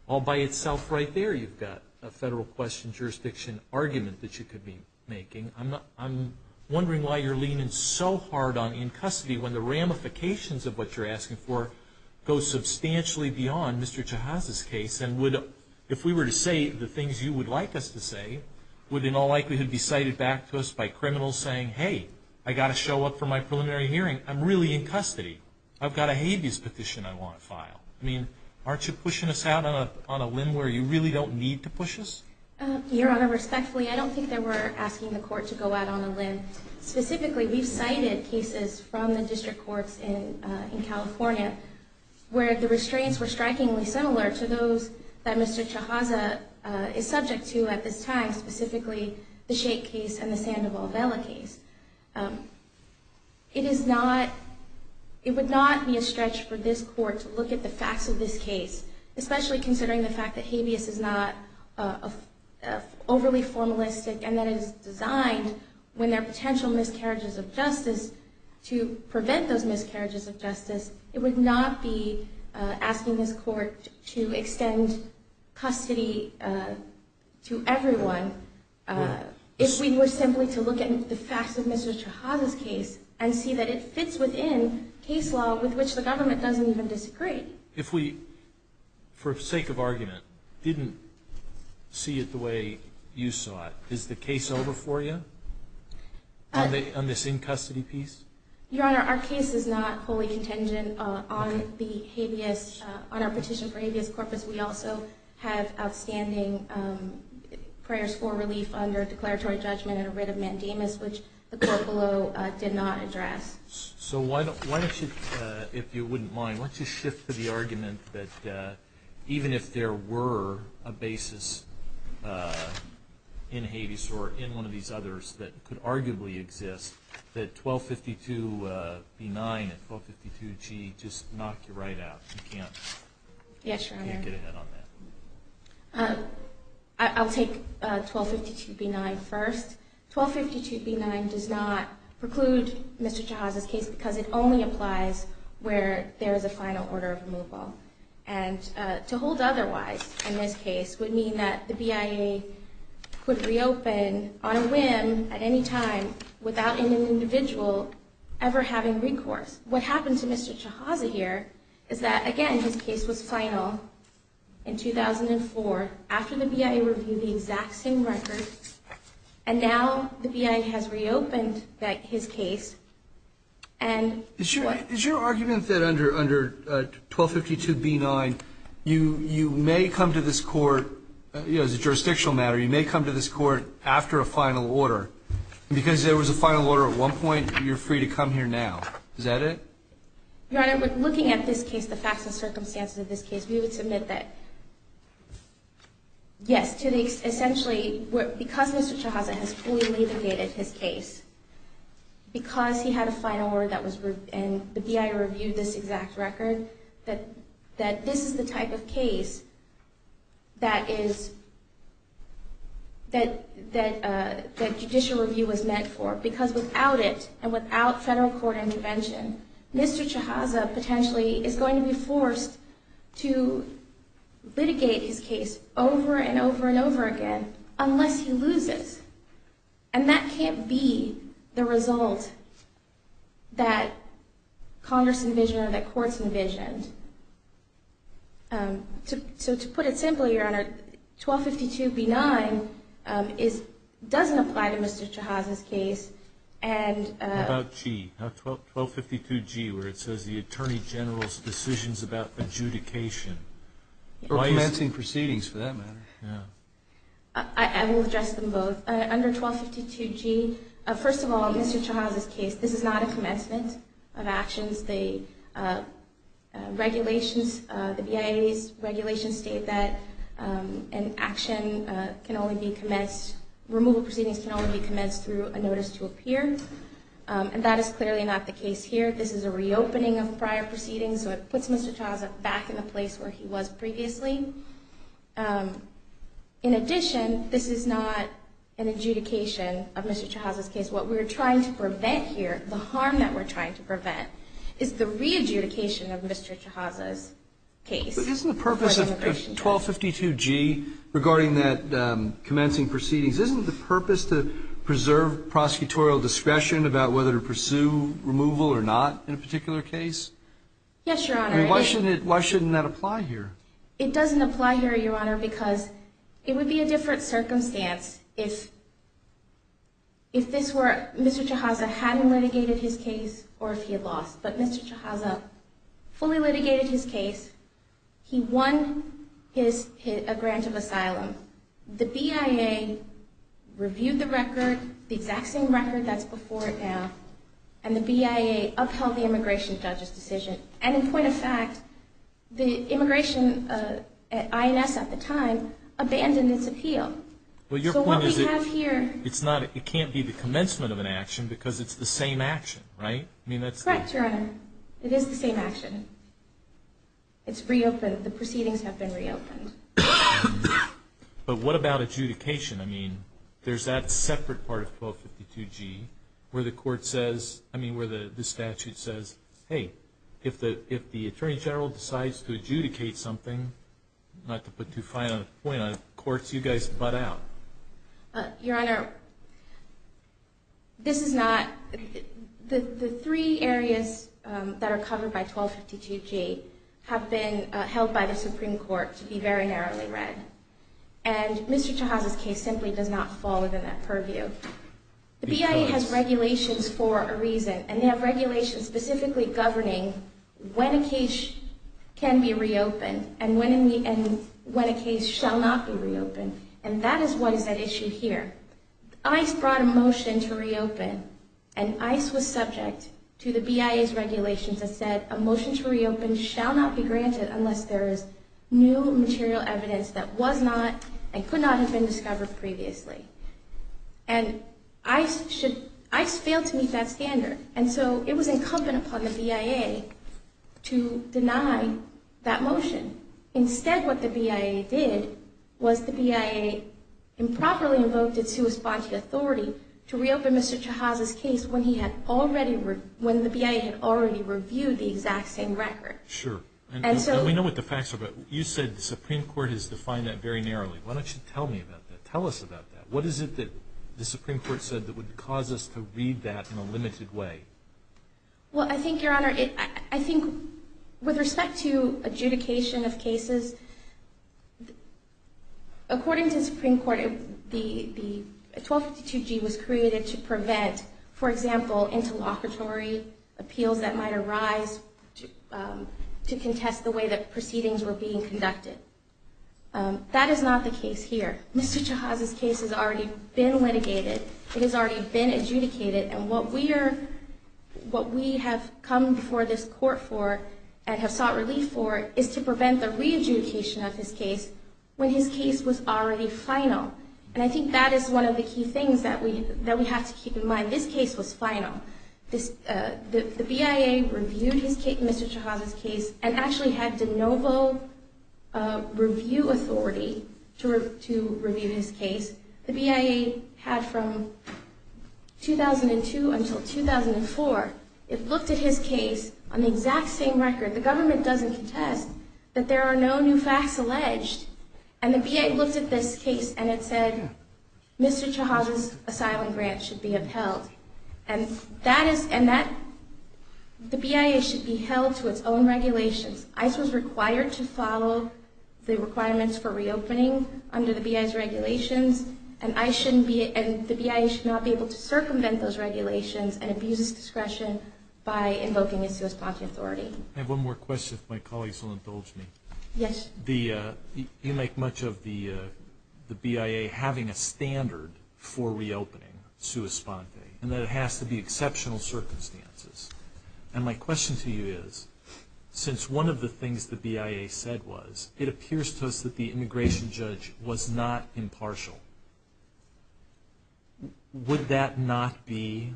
all by itself right there, you've got a federal question jurisdiction argument that you could be making. I'm wondering why you're leaning so hard on in-custody when the ramifications of what you're asking for go substantially beyond Mr. Chahaza's case, and if we were to say the things you would like us to say, would they not likely to be cited back to us by criminals saying, hey, I've got to show up for my preliminary hearing. I'm really in custody. I've got a habeas position I want filed. I mean, aren't you pushing us out on a limb where you really don't need to push us? Your Honor, respectfully, I don't think that we're asking the court to go out on a limb. Specifically, we've cited cases from the district courts in California where the restraints were strikingly similar to those that Mr. Chahaza is subject to at this time, specifically the Shake case and the Sandoval-Bella case. It would not be a stretch for this court to look at the facts of this case, especially considering the fact that habeas is not overly formalistic and that it is designed when there are potential miscarriages of justice to prevent those miscarriages of justice. It would not be asking this court to extend custody to everyone if we were simply to look at the facts of Mr. Chahaza's case and see that it fits within case law with which the government doesn't even disagree. If we, for sake of argument, didn't see it the way you saw it, is the case over for you on this in-custody piece? Your Honor, our case is not wholly contingent on our petition for habeas corpus. We also have outstanding prior school relief under declaratory judgment and a writ of mandamus, which the court below did not address. So why don't you, if you wouldn't mind, why don't you shift to the argument that even if there were a basis in habeas or in one of these others that could arguably exist, that 1252B9 and 1252G just knock you right out. You can't get ahead on that. Yes, Your Honor. I'll take 1252B9 first. 1252B9 does not preclude Mr. Chahaza's case because it only applies where there is a final order of removal. And to hold otherwise in this case would mean that the BIA could reopen on a whim at any time without an individual ever having recourse. What happened to Mr. Chahaza here is that, again, his case was final in 2004 after the BIA reviewed the exact same records and now the BIA has reopened his case. Is your argument that under 1252B9 you may come to this court, as a jurisdictional matter, you may come to this court after a final order because there was a final order at one point and you're free to come here now? Is that it? Your Honor, looking at this case, the facts and circumstances of this case, we would submit that yes, essentially because Mr. Chahaza fully litigated his case, because he had a final order and the BIA reviewed this exact record, that this is the type of case that judicial review was meant for because without it and without federal court intervention, Mr. Chahaza potentially is going to be forced to litigate his case over and over and over again unless he loses. And that can't be the result that Congress envisioned or that courts envisioned. So to put it simply, Your Honor, 1252B9 doesn't apply to Mr. Chahaza's case. What about 1252G where it says the Attorney General's decisions about adjudication? Or amending proceedings for that matter. I will address them both. Under 1252G, first of all, in Mr. Chahaza's case, this is not a commencement of actions. The BIA's regulations state that an action can only be commenced, removal proceedings can only be commenced through a notice to appear, and that is clearly not the case here. This is a reopening of prior proceedings, so it puts Mr. Chahaza back in the place where he was previously. In addition, this is not an adjudication of Mr. Chahaza's case. What we're trying to prevent here, the harm that we're trying to prevent, is the re-adjudication of Mr. Chahaza's case. But isn't the purpose of 1252G regarding that commencing proceedings, isn't the purpose to preserve prosecutorial discretion about whether to pursue removal or not in a particular case? Yes, Your Honor. Why shouldn't that apply here? It doesn't apply here, Your Honor, because it would be a different circumstance if Mr. Chahaza hadn't litigated his case or if he had lost. But Mr. Chahaza fully litigated his case. He won a grant of asylum. The BIA reviewed the record, the exact same record that's before it now, and the BIA upheld the Immigration Statute's decision. And in point of fact, the Immigration, INS at the time, abandoned this appeal. But what we have here... It can't be the commencement of an action because it's the same action, right? Correct, Your Honor. It is the same action. It's reopened. The proceedings have been reopened. But what about adjudication? I mean, there's that separate part of 1252G where the statute says, hey, if the Attorney General decides to adjudicate something, not to put too fine a point on it, courts, you guys butt out. Your Honor, this is not... The three areas that are covered by 1252G have been held by the Supreme Court to be very narrowly read. And Mr. Chahal's case simply does not fall within that purview. The BIA has regulations for a reason, and they have regulations specifically governing when a case can be reopened and when a case shall not be reopened. And that is one of the issues here. ICE brought a motion to reopen, and ICE was subject to the BIA's regulations that said a motion to reopen shall not be granted unless there is new material evidence that was not and could not have been discovered previously. And ICE failed to meet that standard, and so it was incumbent upon the BIA to deny that motion. Instead, what the BIA did was the BIA improperly invoked a two-response authority to reopen Mr. Chahal's case when the BIA had already reviewed the exact same record. Sure. And we know what the facts are, but you said the Supreme Court has defined that very narrowly. Why don't you tell me about that? Tell us about that. What is it that the Supreme Court said that would cause us to read that in a limited way? Well, I think, Your Honor, I think with respect to adjudication of cases, according to the Supreme Court, the 1252G was created to prevent, for example, interlocutory appeals that might arise to contest the way that proceedings were being conducted. That is not the case here. Mr. Chahal's case has already been litigated, it has already been adjudicated, and what we have come before this Court for and have sought relief for is to prevent the re-adjudication of his case when his case was already final. And I think that is one of the key things that we have to keep in mind. This case was final. The BIA reviewed Mr. Chahal's case and actually had the noble review authority to review his case. The BIA had from 2002 until 2004. It looked at his case on the exact same record. The government doesn't contend that there are no new facts alleged. And the BIA looked at this case and it said Mr. Chahal's asylum grant should be upheld. And the BIA should be held to its own regulations. ICE was required to follow the requirements for reopening under the BIA's regulations, and the BIA should not be able to circumvent those regulations and abuse discretion by invoking its response authority. I have one more question if my colleagues won't indulge me. Yes. You make much of the BIA having a standard for reopening sua sponte, and that it has to be exceptional circumstances. And my question to you is, since one of the things the BIA said was, it appears to us that the immigration judge was not impartial. Would that not be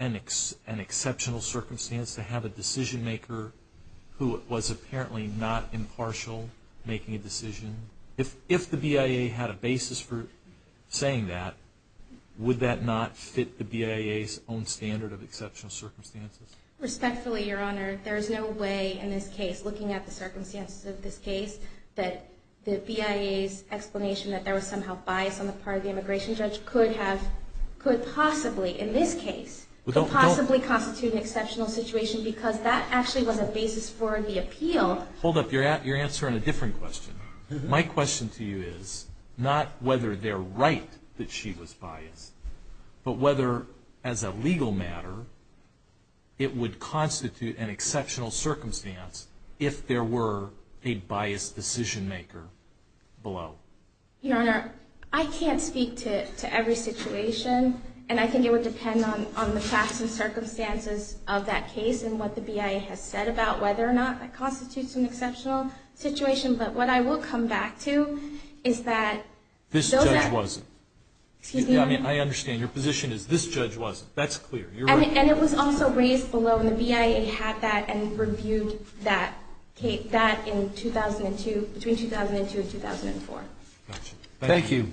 an exceptional circumstance to have a decision maker who was apparently not impartial making a decision? If the BIA had a basis for saying that, would that not fit the BIA's own standard of exceptional circumstances? Respectfully, Your Honor, there is no way in this case, looking at the circumstances of this case, that the BIA's explanation that there was somehow bias on the part of the immigration judge could possibly, in this case, possibly constitute an exceptional situation because that actually was a basis for the appeal. Hold up. You're answering a different question. My question to you is not whether they're right that she was biased, but whether, as a legal matter, it would constitute an exceptional circumstance if there were a biased decision maker below. Your Honor, I can't speak to every situation, and I think it would depend on the facts and circumstances of that case and what the BIA has said about whether or not that constitutes an exceptional situation, but what I will come back to is that… This judge wasn't. I mean, I understand. Your position is this judge wasn't. That's clear. And it was also raised below, and the BIA had that, and reviewed that case between 2002 and 2004. Thank you.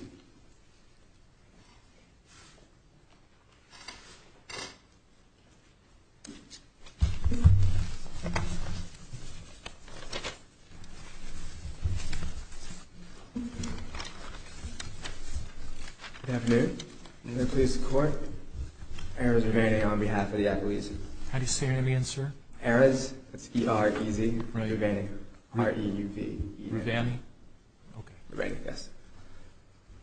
Good afternoon. I'm here to support Erez Rivani on behalf of the athletes. How do you say your name again, sir? Erez, that's E-R-E-Z. R-I-V-A-N-I.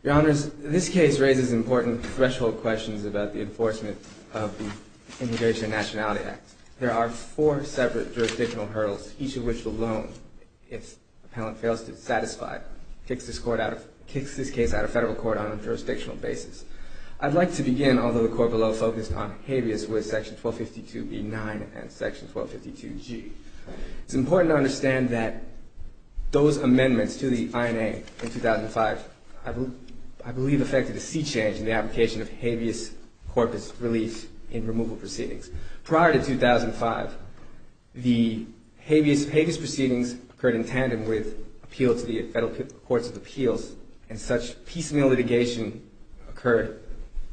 Your Honor, this case raises important threshold questions about the enforcement of the Immigration and Nationality Act. There are four separate jurisdictional hurdles, each of which alone, if an appellant fails to satisfy, kicks this case out of federal court on a jurisdictional basis. I'd like to begin, although the court below is focused on caveats, with section 452b-9 and section 452g. It's important to understand that those amendments to the INA in 2005, I believe, affected a sea change in the application of habeas corpus relief in removal proceedings. Prior to 2005, the habeas proceedings occurred in tandem with appeals to the federal courts of appeals, and such piecemeal litigation occurred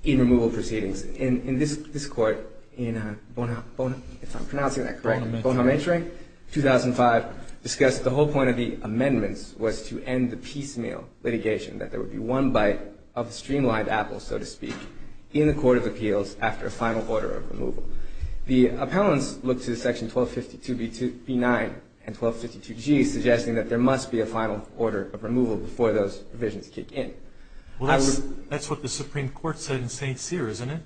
in removal proceedings. In this court, in Bonamentering, 2005, discussed that the whole point of the amendments was to end the piecemeal litigation, that there would be one bite of the streamlined apple, so to speak, in the court of appeals after a final order of removal. The appellants looked to section 452b-9 and 452g, suggesting that there must be a final order of removal before those provisions kick in. That's what the Supreme Court said in St. Cyr, isn't it?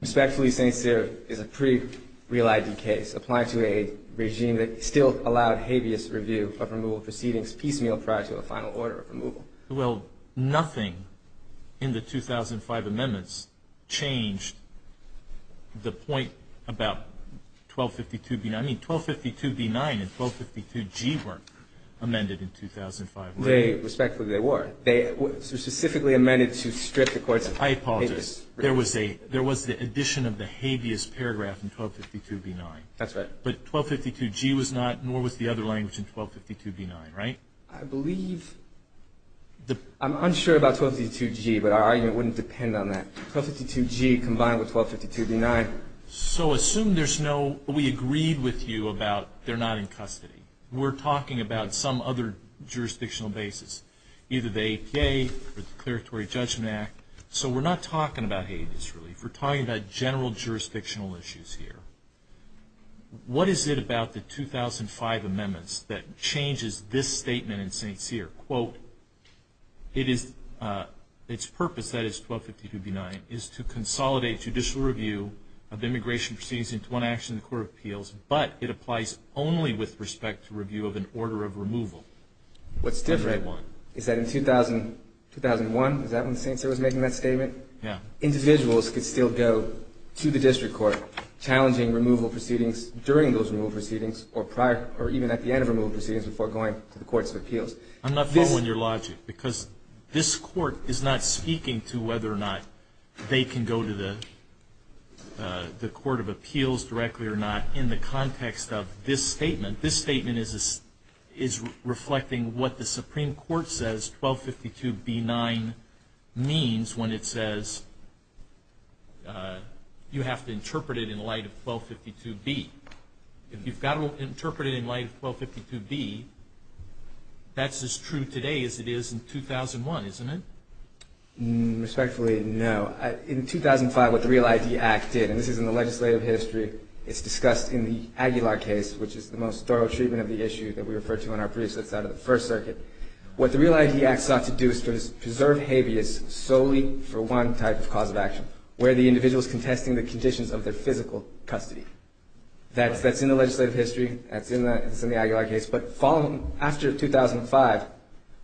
Respectfully, St. Cyr is a pre-realized case. It applies to a regime that still allowed habeas review for removal proceedings piecemeal prior to a final order of removal. Well, nothing in the 2005 amendments changed the point about 1252b-9. I mean, 1252b-9 and 1252g weren't amended in 2005, were they? Respectfully, they were. They were specifically amended to strip the courts of… I apologize. There was the addition of the habeas paragraph in 1252b-9. That's right. But 1252g was not, nor was the other language in 1252b-9, right? I believe… I'm unsure about 1252g, but our argument wouldn't depend on that. 1252g combined with 1252b-9… So, assume there's no… We agreed with you about they're not in custody. We're talking about some other jurisdictional basis, either the ADA or the Declaratory Judgment Act. So, we're not talking about habeas relief. We're talking about general jurisdictional issues here. What is it about the 2005 amendments that changes this statement in St. Cyr? Quote, its purpose, that is, 1252b-9, is to consolidate judicial review of immigration proceedings into one action in the Court of Appeals, but it applies only with respect to review of an order of removal. What's different is that in 2001, is that when St. Cyr was making that statement? Yeah. Individuals could still go to the district court, challenging removal proceedings during those removal proceedings or even at the end of removal proceedings before going to the Court of Appeals. I'm not following your logic, because this court is not speaking to whether or not they can go to the Court of Appeals directly or not in the context of this statement. This statement is reflecting what the Supreme Court says 1252b-9 means when it says you have to interpret it in light of 1252b. If you've got to interpret it in light of 1252b, that's as true today as it is in 2001, isn't it? Respectfully, no. In 2005, what the Real ID Act did, and this is in the legislative history, it's discussed in the Aguilar case, which is the most thorough treatment of the issue that we refer to in our briefs outside of the First Circuit. What the Real ID Act sought to do is to preserve habeas solely for one type of cause of action, where the individual is contesting the conditions of their physical custody. That's in the legislative history, that's in the Aguilar case, but following, after 2005,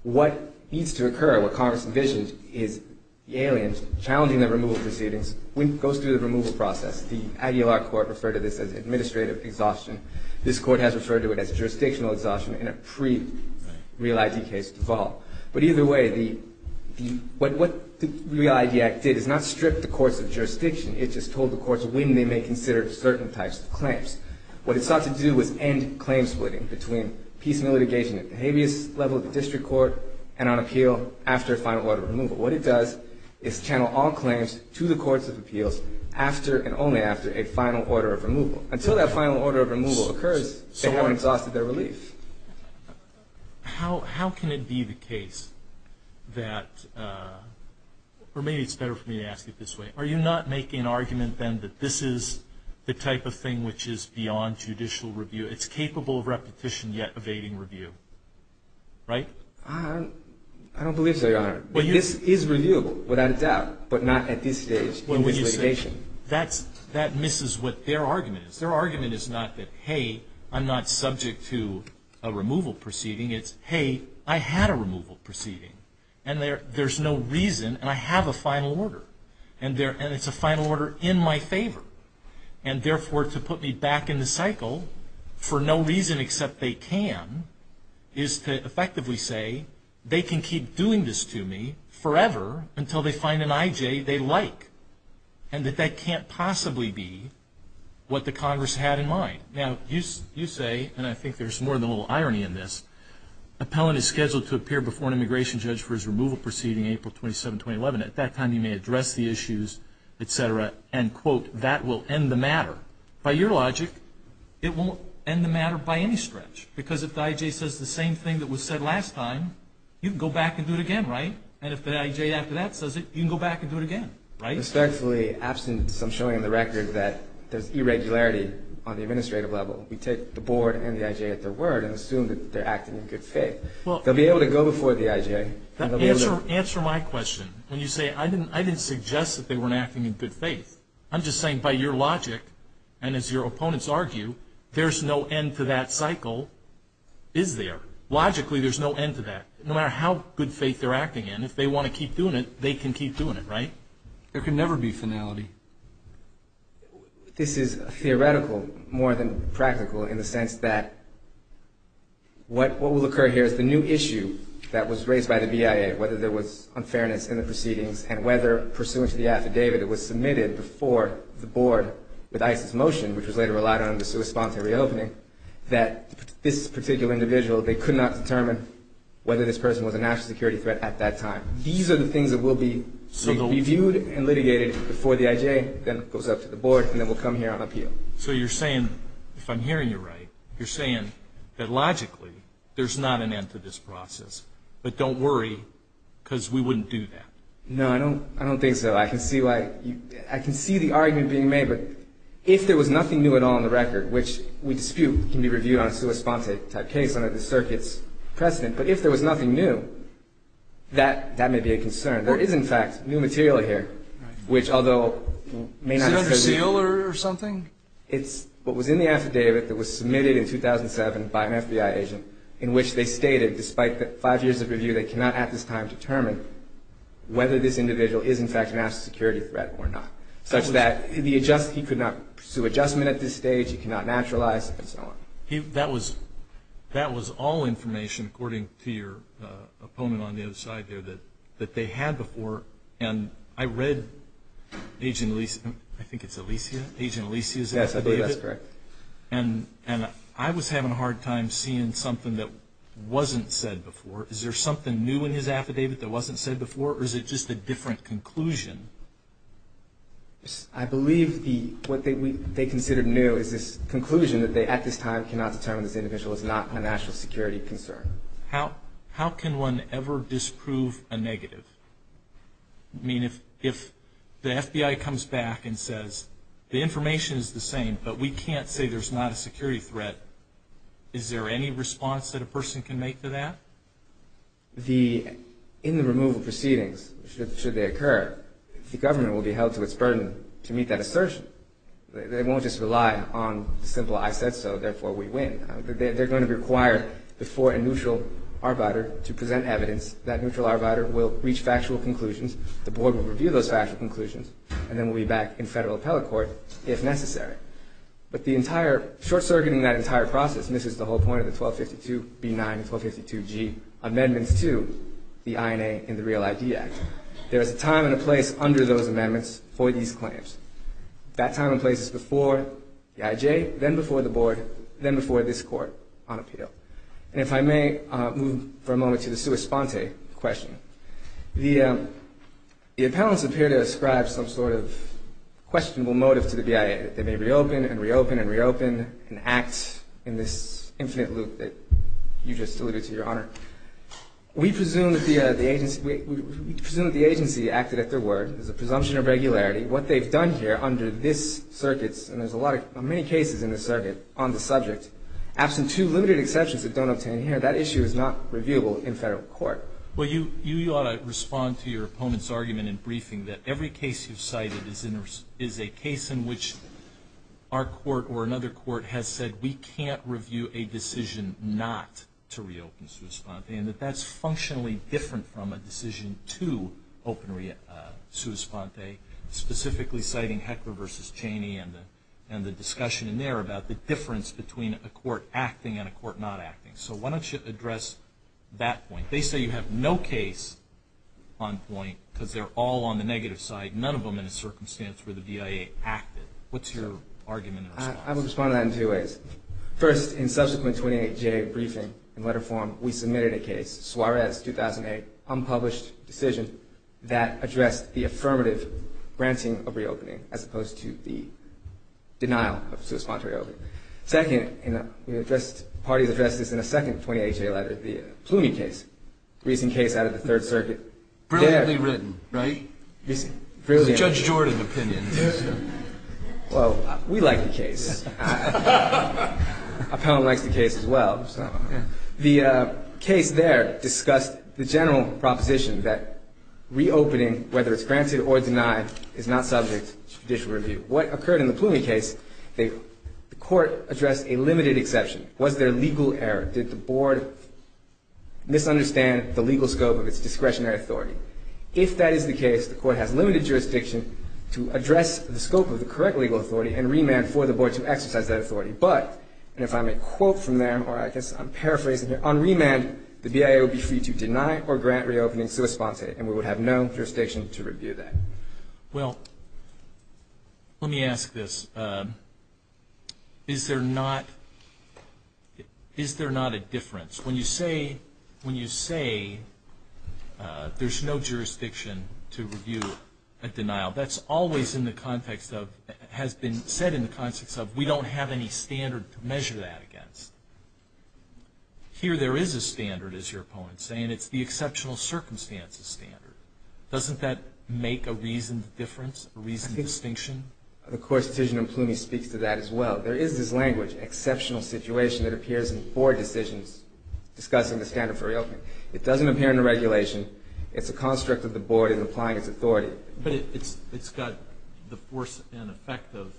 what needs to occur, what Congress envisions is the aliens challenging the removal proceedings when it goes through the removal process. The Aguilar Court referred to this as administrative exhaustion. This Court has referred to it as jurisdictional exhaustion in a pre-Real ID case as well. But either way, what the Real ID Act did is not strip the courts of jurisdiction, it just told the courts when they may consider certain types of claims. What it sought to do was end claim splitting between peace and litigation at the habeas level of the district court and on appeal after a final order of removal. What it does is channel all claims to the courts of appeals after and only after a final order of removal. Until that final order of removal occurs, someone exhausted their release. How can it be the case that, or maybe it's better for me to ask it this way, are you not making an argument then that this is the type of thing which is beyond judicial review? It's capable of repetition yet evading review, right? I don't believe so, Your Honor. This is reviewable without a doubt, but not at this stage in litigation. That misses what their argument is. Their argument is not that, hey, I'm not subject to a removal proceeding. It's, hey, I had a removal proceeding, and there's no reason, and I have a final order, and it's a final order in my favor. And, therefore, to put me back in the cycle for no reason except they can is to effectively say they can keep doing this to me forever until they find an I.J. they like and that that can't possibly be what the Congress had in mind. Now, you say, and I think there's more than a little irony in this, appellant is scheduled to appear before an immigration judge for his removal proceeding April 27, 2011. At that time, you may address the issues, et cetera. And, quote, that will end the matter. By your logic, it won't end the matter by any stretch, because if the I.J. says the same thing that was said last time, you can go back and do it again, right? And if the I.J. after that says it, you can go back and do it again, right? Respectfully, absent some showing on the record that there's irregularity on the administrative level, we take the board and the I.J. at their word and assume that they're acting in good faith. They'll be able to go before the I.J. Answer my question. When you say, I didn't suggest that they weren't acting in good faith, I'm just saying by your logic and as your opponents argue, there's no end to that cycle, is there? Logically, there's no end to that. No matter how good faith they're acting in, if they want to keep doing it, they can keep doing it, right? There can never be finality. This is theoretical more than practical in the sense that what will occur here is the new issue that was raised by the V.I.A., whether there was unfairness in the proceedings and whether pursuant to the affidavit that was submitted before the board with ICE's motion, which was later relied on in response to reopening, that this particular individual, they could not determine whether this person was a national security threat at that time. These are the things that will be reviewed and litigated before the I.J. then goes up to the board and then will come here and appeal. So you're saying, if I'm hearing you right, you're saying that logically, there's not an end to this process, but don't worry because we wouldn't do that. No, I don't think so. I can see the argument being made, but if there was nothing new at all in the record, which we dispute can be reviewed on a sui sponte case under the circuit's precedent, but if there was nothing new, that may be a concern. There is, in fact, new material here, which although may not have been reviewed. Is that a seal or something? It's what was in the affidavit that was submitted in 2007 by an FBI agent in which they stated, despite the five years of review, they cannot at this time determine whether this individual is, in fact, a national security threat or not, such that he could not pursue adjustment at this stage, he could not naturalize and so on. That was all information, according to your opponent on the other side there, that they had before, and I read Agent Alicia's affidavit, and I was having a hard time seeing something that wasn't said before. Is there something new in his affidavit that wasn't said before, or is it just a different conclusion? I believe what they considered new is this conclusion that they, at this time, cannot determine this individual is not a national security concern. How can one ever disprove a negative? I mean, if the FBI comes back and says, the information is the same, but we can't say there's not a security threat, is there any response that a person can make to that? In the removal proceedings, should they occur, the government will be held to its burden to meet that assertion. They won't just rely on simple, I said so, therefore we win. They're going to be required before a neutral arbiter to present evidence. That neutral arbiter will reach factual conclusions, the board will review those factual conclusions, and then we'll be back in federal telecourt if necessary. But the entire, short-circuiting that entire process misses the whole point of the 1262B9 and 1262G amendments to the INA and the Real ID Act. There is a time and a place under those amendments for these claims. That time and place is before the IJ, then before the board, then before this court on appeal. And if I may move for a moment to the sua sponte question. The appellants appear to ascribe some sort of questionable motive to the BIA. They may reopen and reopen and reopen and act in this infinite loop that you just alluded to, Your Honor. We presume that the agency acted at their word, there's a presumption of regularity. What they've done here under this circuit, and there's many cases in this circuit on the subject, absent two limited exceptions that don't obtain here, that issue is not reviewable in federal court. Well, you ought to respond to your opponent's argument in briefing that every case you've cited is a case in which our court or another court has said we can't review a decision not to reopen sua sponte, and that that's functionally different from a decision to open sua sponte, specifically citing Heckler v. Cheney and the discussion in there about the difference between a court acting and a court not acting. So why don't you address that point? They say you have no case on point because they're all on the negative side, none of them in a circumstance where the BIA acted. What's your argument? I would respond to that in two ways. First, in subsequent 28-J briefing and letter form, we submitted a case, Suarez 2008, unpublished decision, that addressed the affirmative granting of reopening as opposed to the denial of sua sponte reopening. Second, we addressed the party of the justice in a second 28-J letter, the Plumy case, a recent case out of the Third Circuit. Brilliantly written, right? It's Judge Jordan's opinion. Well, we like the case. I kind of like the case as well. The case there discussed the general proposition that reopening, whether it's granted or denied, is not subject to judicial review. What occurred in the Plumy case, the court addressed a limited exception. Was there a legal error? Did the board misunderstand the legal scope of its discretionary authority? If that is the case, the court has limited jurisdiction to address the scope of the correct legal authority and remand for the board to exercise that authority. But, and if I may quote from there, or I guess I'm paraphrasing here, on remand, the BIA would be free to deny or grant reopening sua sponte, and we would have no jurisdiction to review that. Well, let me ask this. Is there not a difference? When you say there's no jurisdiction to review a denial, that's always in the context of, has been said in the context of we don't have any standard to measure that against. Here there is a standard, as your opponent is saying. It's the exceptional circumstances standard. Doesn't that make a reasoned difference, a reasoned distinction? I think the court's decision in Plumy speaks to that as well. There is this language, exceptional situation, that appears in four decisions discussing the standard for reopening. It doesn't appear in the regulation. It's a construct that the board is applying its authority. But it's got the force and effect of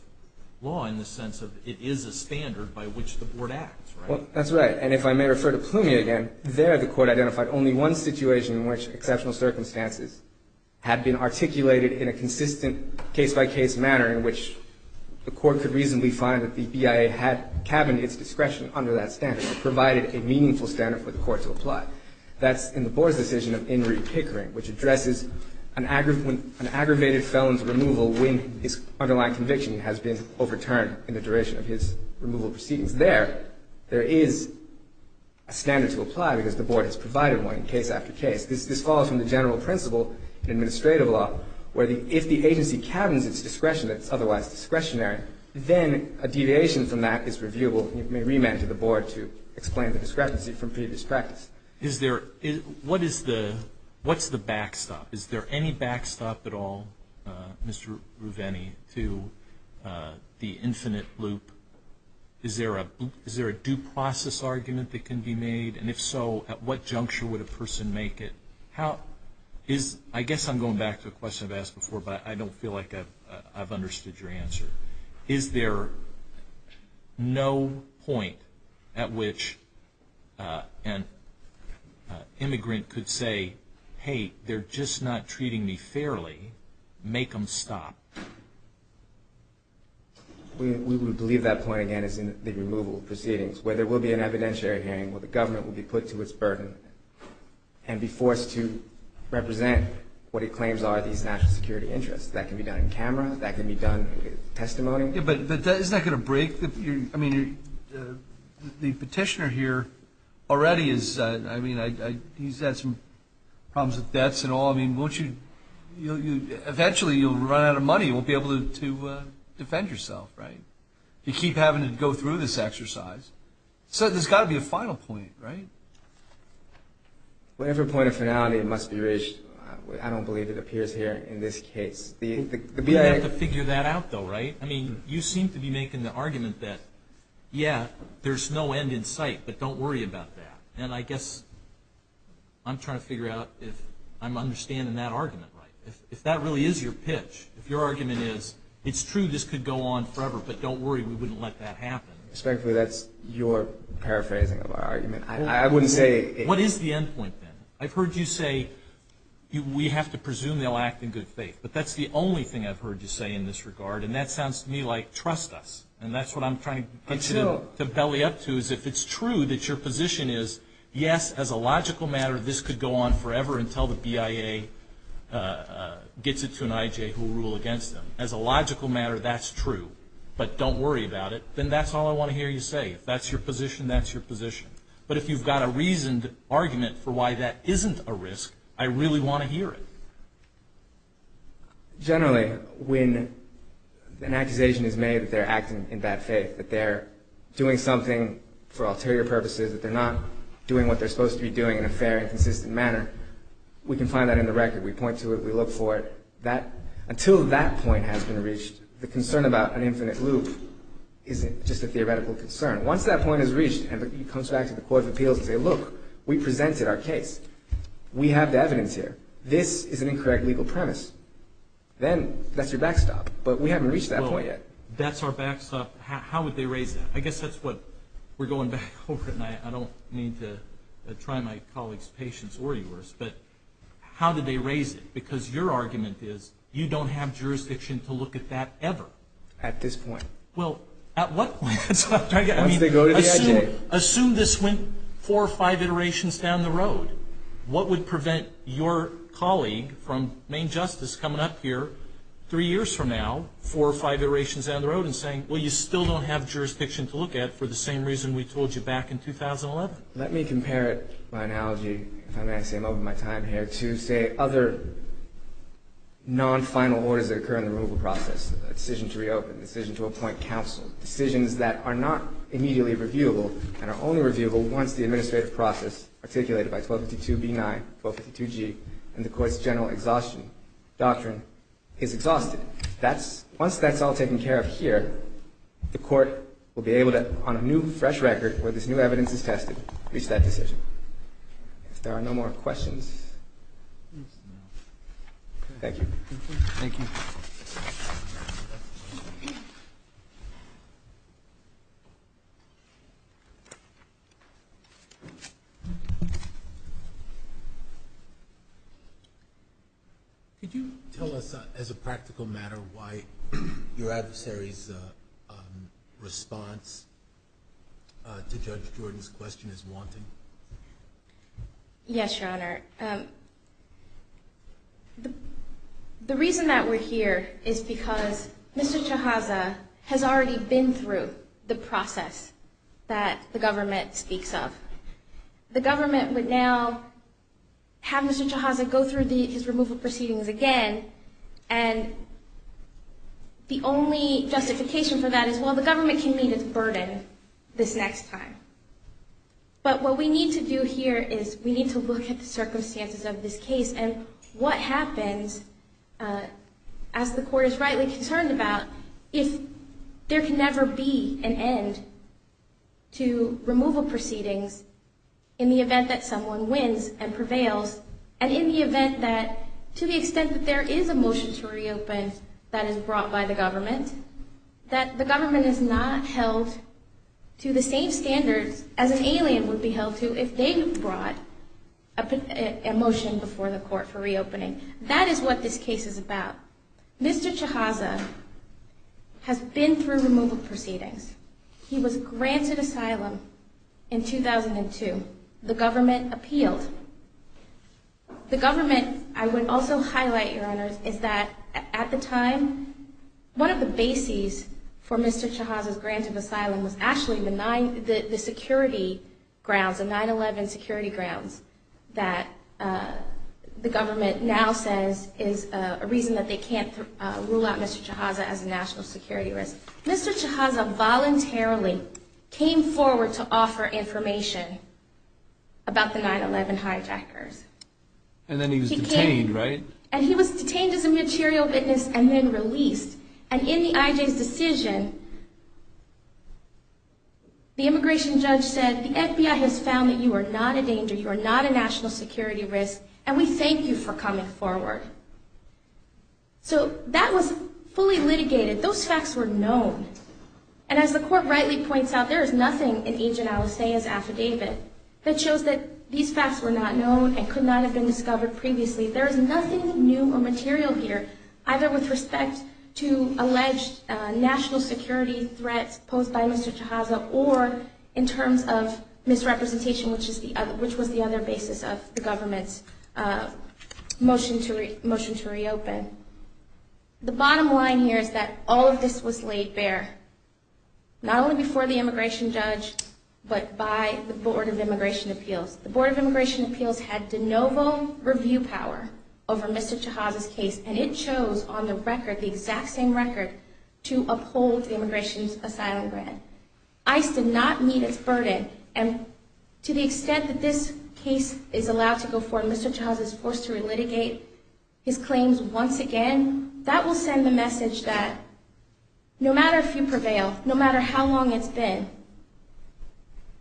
law in the sense of it is a standard by which the board acts, right? Well, that's right. And if I may refer to Plumy again, there the court identified only one situation in which exceptional circumstances had been articulated in a consistent case-by-case manner in which the court could reasonably find that the BIA had cabined its discretion under that standard and provided a meaningful standard for the court to apply. That's in the board's decision of in route tickering, which addresses an aggravated felon's removal when his underlying conviction has been overturned in the duration of his removal proceedings. Because there, there is a standard to apply because the board has provided one case after case. This follows from the general principle in administrative law, where if the agency cabins its discretion that's otherwise discretionary, then a deviation from that is reviewable. We may remand to the board to explain the discrepancy from previous practice. What's the backstop? Is there any backstop at all, Mr. Rouveni, to the infinite loop? Is there a due process argument that can be made? And if so, at what juncture would a person make it? I guess I'm going back to a question I've asked before, but I don't feel like I've understood your answer. Is there no point at which an immigrant could say, hey, they're just not treating me fairly, make them stop? We would believe that point, again, is in the removal proceedings, where there will be an evidentiary hearing where the government will be put to its burden and be forced to represent what it claims are these national security interests. That can be done in camera. That can be done in testimony. Yeah, but isn't that going to break the, I mean, the petitioner here already is, I mean, he's got some problems with debts and all. I mean, eventually you'll run out of money. You won't be able to defend yourself, right? You keep having to go through this exercise. So there's got to be a final point, right? Well, every point of finality must be reached. I don't believe it appears here in this case. We have to figure that out, though, right? I mean, you seem to be making the argument that, yeah, there's no end in sight, but don't worry about that. And I guess I'm trying to figure out if I'm understanding that argument right. If that really is your pitch, if your argument is it's true this could go on forever, but don't worry, we wouldn't let that happen. Frankly, that's your paraphrasing of our argument. I wouldn't say it is. What is the end point, then? I've heard you say we have to presume they'll act in good faith, but that's the only thing I've heard you say in this regard, and that sounds to me like trust us, and that's what I'm trying to belly up to is if it's true that your position is, yes, as a logical matter, this could go on forever until the BIA gets it to an IJ who will rule against them. As a logical matter, that's true, but don't worry about it. Then that's all I want to hear you say. If that's your position, that's your position. But if you've got a reasoned argument for why that isn't a risk, I really want to hear it. Generally, when an accusation is made that they're acting in bad faith, that they're doing something for ulterior purposes, that they're not doing what they're supposed to be doing in a fair and consistent manner, we can find that in the record. We point to it. We look for it. Until that point has been reached, the concern about an infinite loop isn't just a theoretical concern. Once that point is reached and it comes back to the Court of Appeals, they say, look, we presented our case. We have the evidence here. This is an incorrect legal premise. Then that's your backstop. But we haven't reached that point yet. That's our backstop. How would they raise it? I guess that's what we're going back over tonight. I don't mean to try and make colleagues' patience worry worse. But how do they raise it? Because your argument is you don't have jurisdiction to look at that ever. At this point. Well, at what point? Assume this went four or five iterations down the road. What would prevent your colleague from main justice coming up here three years from now, four or five iterations down the road, and saying, well, you still don't have jurisdiction to look at for the same reason we told you back in 2011? Let me compare it by analogy, because I'm actually over my time here, to say other non-final orders that occur in the removal process, a decision to reopen, a decision to appoint counsel, decisions that are not immediately reviewable and are only reviewable once the administrative process articulated by 1252B9, 1252G, and the court's general exhaustion doctrine is exhausted. Once that's all taken care of here, the court will be able to, on a new, fresh record where this new evidence is tested, reach that decision. If there are no more questions. Thank you. Thank you. Thank you. Could you tell us, as a practical matter, why your adversary's response to Judge Jordan's question is wanting? Yes, Your Honor. Thank you, Your Honor. The reason that we're here is because Mr. Chiazza has already been through the process that the government speaks of. The government would now have Mr. Chiazza go through these removal proceedings again, and the only justification for that is, well, the government can meet its burden this next time. But what we need to do here is we need to look at the circumstances of this case and what happens, as the court is rightly concerned about, if there can never be an end to removal proceedings in the event that someone wins and prevails, and in the event that, to the extent that there is a motion to reopen that is brought by the government, that the government is not held to the same standards as an alien would be held to if they were brought a motion before the court for reopening. That is what this case is about. Mr. Chiazza has been through removal proceedings. He was granted asylum in 2002. The government appealed. The government, I would also highlight, Your Honor, is that at the time, one of the bases for Mr. Chiazza's granted asylum was actually the security grounds, the 9-11 security grounds, that the government now says is a reason that they can't rule out Mr. Chiazza as a national security risk. Mr. Chiazza voluntarily came forward to offer information about the 9-11 hijackers. And then he was detained, right? And he was detained as a material witness and then released. And in the hijack decision, the immigration judge said, the FBI has found that you are not a danger, you are not a national security risk, and we thank you for coming forward. So that was fully litigated. Those facts were known. And as the court rightly points out, there is nothing in Agent Alessia's affidavit that shows that these facts were not known and could not have been discovered previously. There is nothing new or material here, either with respect to alleged national security threat posed by Mr. Chiazza or in terms of misrepresentation, which was the other basis of the government's motion to reopen. The bottom line here is that all of this was laid bare, not only before the immigration judge but by the Board of Immigration Appeals. The Board of Immigration Appeals had de novo review power over Mr. Chiazza's case, and it chose on the record, the exact same record, to uphold the immigration asylum grant. ICE did not meet its verdict, and to the extent that this case is allowed to go forward and Mr. Chiazza is forced to relitigate his claims once again, that will send the message that no matter who prevails, no matter how long it's been,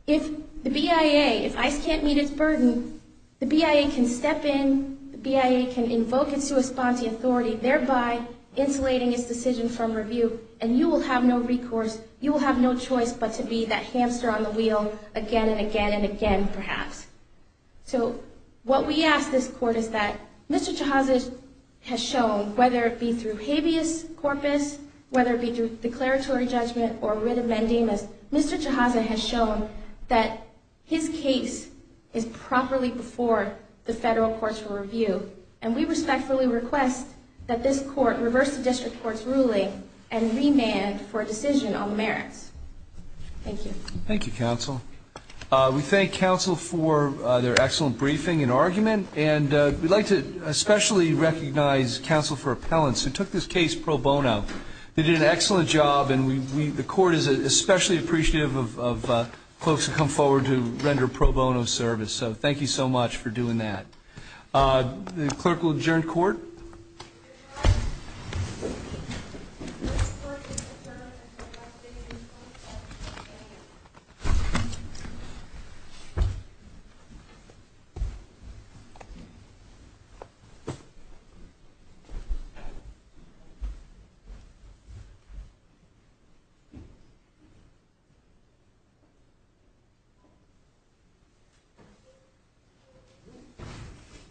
if the BIA, if ICE can't meet its burden, the BIA can step in, the BIA can invoke and co-respond to the authority, thereby insulating its decision from review, and you will have no recourse, you will have no choice but to be that hamster on the wheel again and again and again, perhaps. So what we ask this court is that Mr. Chiazza has shown, whether it be through habeas corpus, whether it be through declaratory judgment or writ of mandamus, Mr. Chiazza has shown that his case is properly before the federal courts of review, and we respectfully request that this court reverse the district court's ruling and remand for a decision on the merits. Thank you. Thank you, counsel. We thank counsel for their excellent briefing and argument, and we'd like to especially recognize counsel for appellants who took this case pro bono. They did an excellent job, and the court is especially appreciative of folks who come forward to render pro bono service, so thank you so much for doing that. The clerk will adjourn court. Thank you.